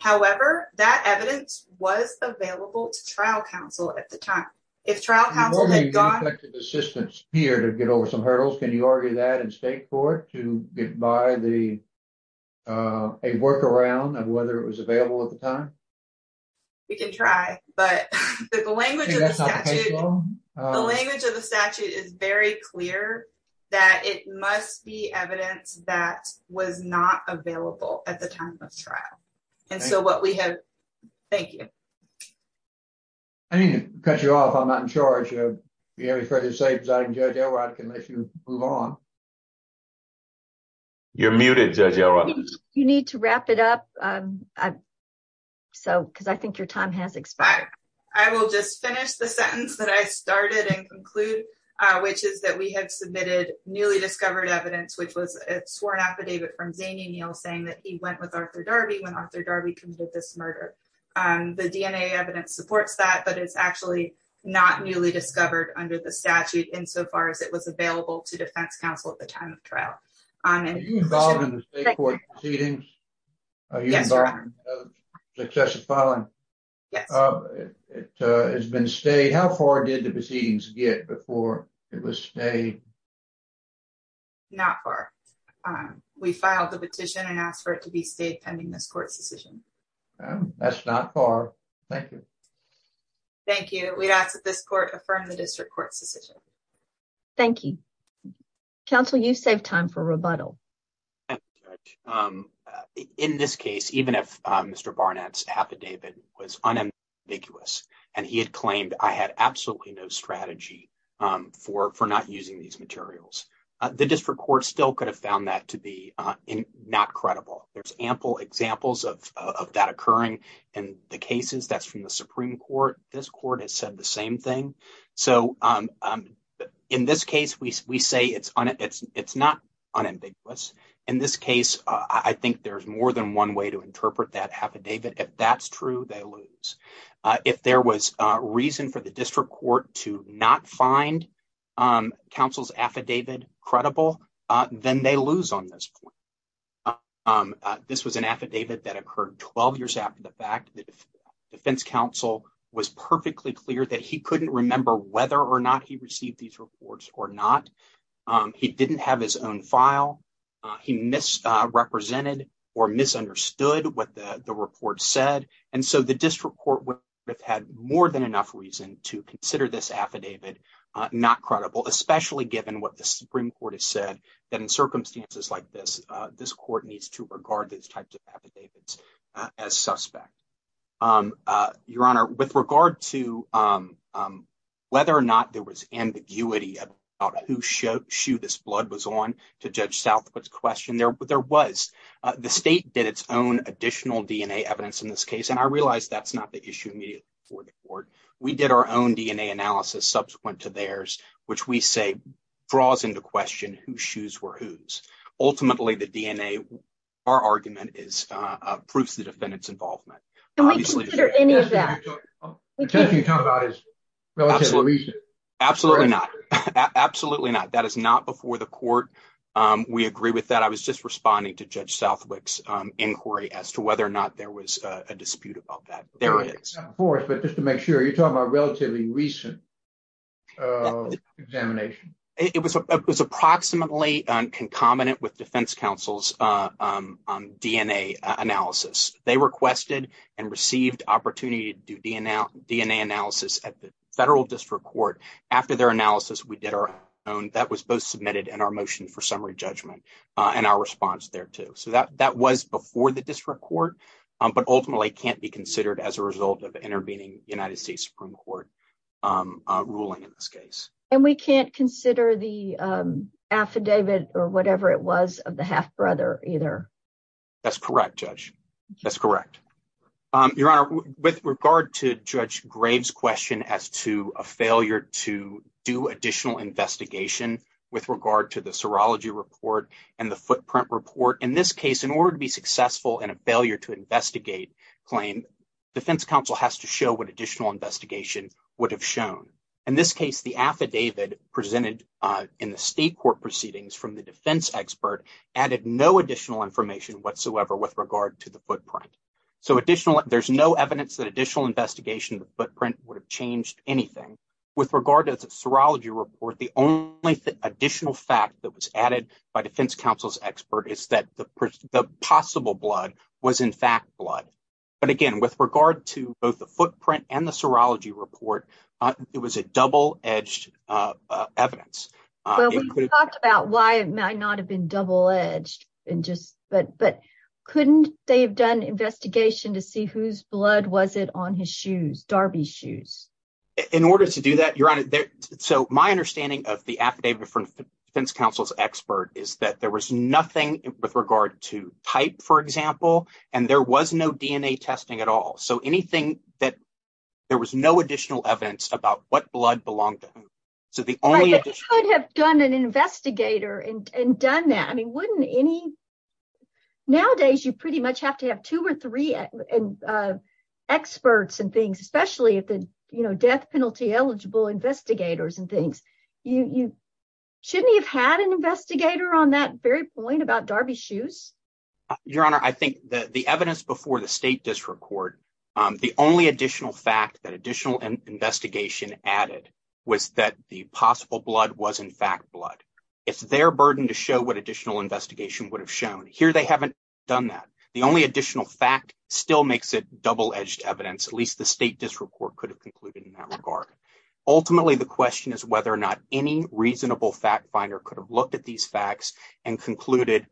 However, that evidence was available to trial counsel at the time. If trial counsel had gone... You've already used effective assistance here to get over some hurdles. Can you argue that in state court to get by a workaround of whether it was available at the time? We can try, but the language of the statute is very clear that it must be evidence that was not available at the time of trial. And so what we have... Thank you. I need to cut you off. I'm not in charge. If you have any further statements, Judge Elrod can let you move on. You're muted, Judge Elrod. You need to wrap it up, because I think your time has expired. I will just finish the sentence that I started and conclude, which is that we have submitted newly discovered evidence, which was a sworn affidavit from Zaney Neal saying that he went with Arthur Darby when Arthur Darby committed this murder. The DNA evidence supports that, but it's actually not newly discovered under the statute insofar as it was available to defense counsel at the time of trial. Are you involved in the state court proceedings? Yes, Your Honor. Are you involved in successive filing? Yes. It has been stayed. How far did the proceedings get before it was stayed? Not far. We filed the petition and asked for it to be stayed pending this court's decision. That's not far. Thank you. Thank you. We ask that this court affirm the district court's decision. Thank you. Counsel, you saved time for rebuttal. Thank you, Judge. In this case, even if Mr. Barnett's affidavit was unambiguous and he had claimed I had absolutely no strategy for not using these materials, the district court still could have found that to be not credible. There's ample examples of that occurring in the cases. That's from the Supreme Court. This court has said the same thing. In this case, we say it's not unambiguous. In this case, I think there's more than one way to interpret that affidavit. If that's true, they lose. If there was a reason for the district court to not find counsel's affidavit credible, then they lose on this point. This was an affidavit that occurred 12 years after the fact. The defense counsel was perfectly clear that he couldn't remember whether or not he didn't have his own file. He misrepresented or misunderstood what the report said. The district court would have had more than enough reason to consider this affidavit not credible, especially given what the Supreme Court has said. In circumstances like this, this court needs to regard these types of affidavits as suspect. Your Honor, with regard to whether or not there to judge Southwood's question, there was. The state did its own additional DNA evidence in this case. I realize that's not the issue immediately before the court. We did our own DNA analysis subsequent to theirs, which we say draws into question whose shoes were whose. Ultimately, the DNA, our argument is proofs of the defendant's involvement. Can we consider any of that? The test you're talking about is relatively recent. Absolutely not. Absolutely not. That is not before the court. We agree with that. I was just responding to Judge Southwick's inquiry as to whether or not there was a dispute about that. There is. But just to make sure, you're talking about relatively recent examination. It was approximately concomitant with defense counsel's DNA analysis. They requested and received opportunity to do DNA analysis at the federal district court. After their analysis, we did our own. That was both submitted in our motion for summary judgment and our response thereto. That was before the district court, but ultimately can't be considered as a result of intervening United States Supreme Court ruling in this case. And we can't consider the affidavit or whatever it was of the half-brother either. That's correct, Judge. That's correct. Your Honor, with regard to Judge Graves' question as to a failure to do additional investigation with regard to the serology report and the footprint report, in this case, in order to be successful in a failure to investigate claim, defense counsel has to show what additional investigation would have shown. In this case, the affidavit presented in the state court proceedings from the defense expert added no additional information whatsoever with regard to the footprint. So there's no evidence that additional investigation of the footprint would have changed anything. With regard to the serology report, the only additional fact that was added by defense counsel's expert is that the possible blood was, in fact, blood. But again, with regard to both the footprint and the serology report, it was a double-edged evidence. Well, we talked about why it might not have been double-edged, but couldn't they have done investigation to see whose blood was it on his shoes, Darby's shoes? In order to do that, Your Honor, so my understanding of the affidavit from defense counsel's expert is that there was with regard to type, for example, and there was no DNA testing at all. So anything that there was no additional evidence about what blood belonged to whom. Right, but they could have done an investigator and done that. I mean, wouldn't any... Nowadays, you pretty much have to have two or three experts and things, especially if the, you know, death penalty eligible investigators and things. Shouldn't he have had an investigator on that very point about Darby's shoes? Your Honor, I think that the evidence before the state disreport, the only additional fact that additional investigation added was that the possible blood was, in fact, blood. It's their burden to show what additional investigation would have shown. Here they haven't done that. The only additional fact still makes it double-edged evidence. At least the state disreport could have concluded in that regard. Ultimately, the question is whether or not any reasonable fact finder could have looked at these facts and concluded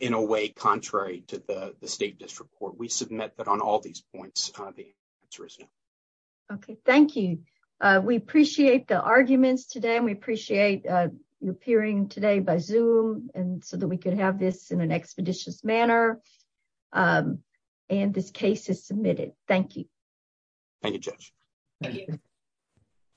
in a way contrary to the state disreport. We submit that on all these points. Okay, thank you. We appreciate the arguments today and we appreciate you appearing today by Zoom and so that we could have this in an expeditious manner. And this case is submitted. Thank you. Thank you, Judge. Thank you.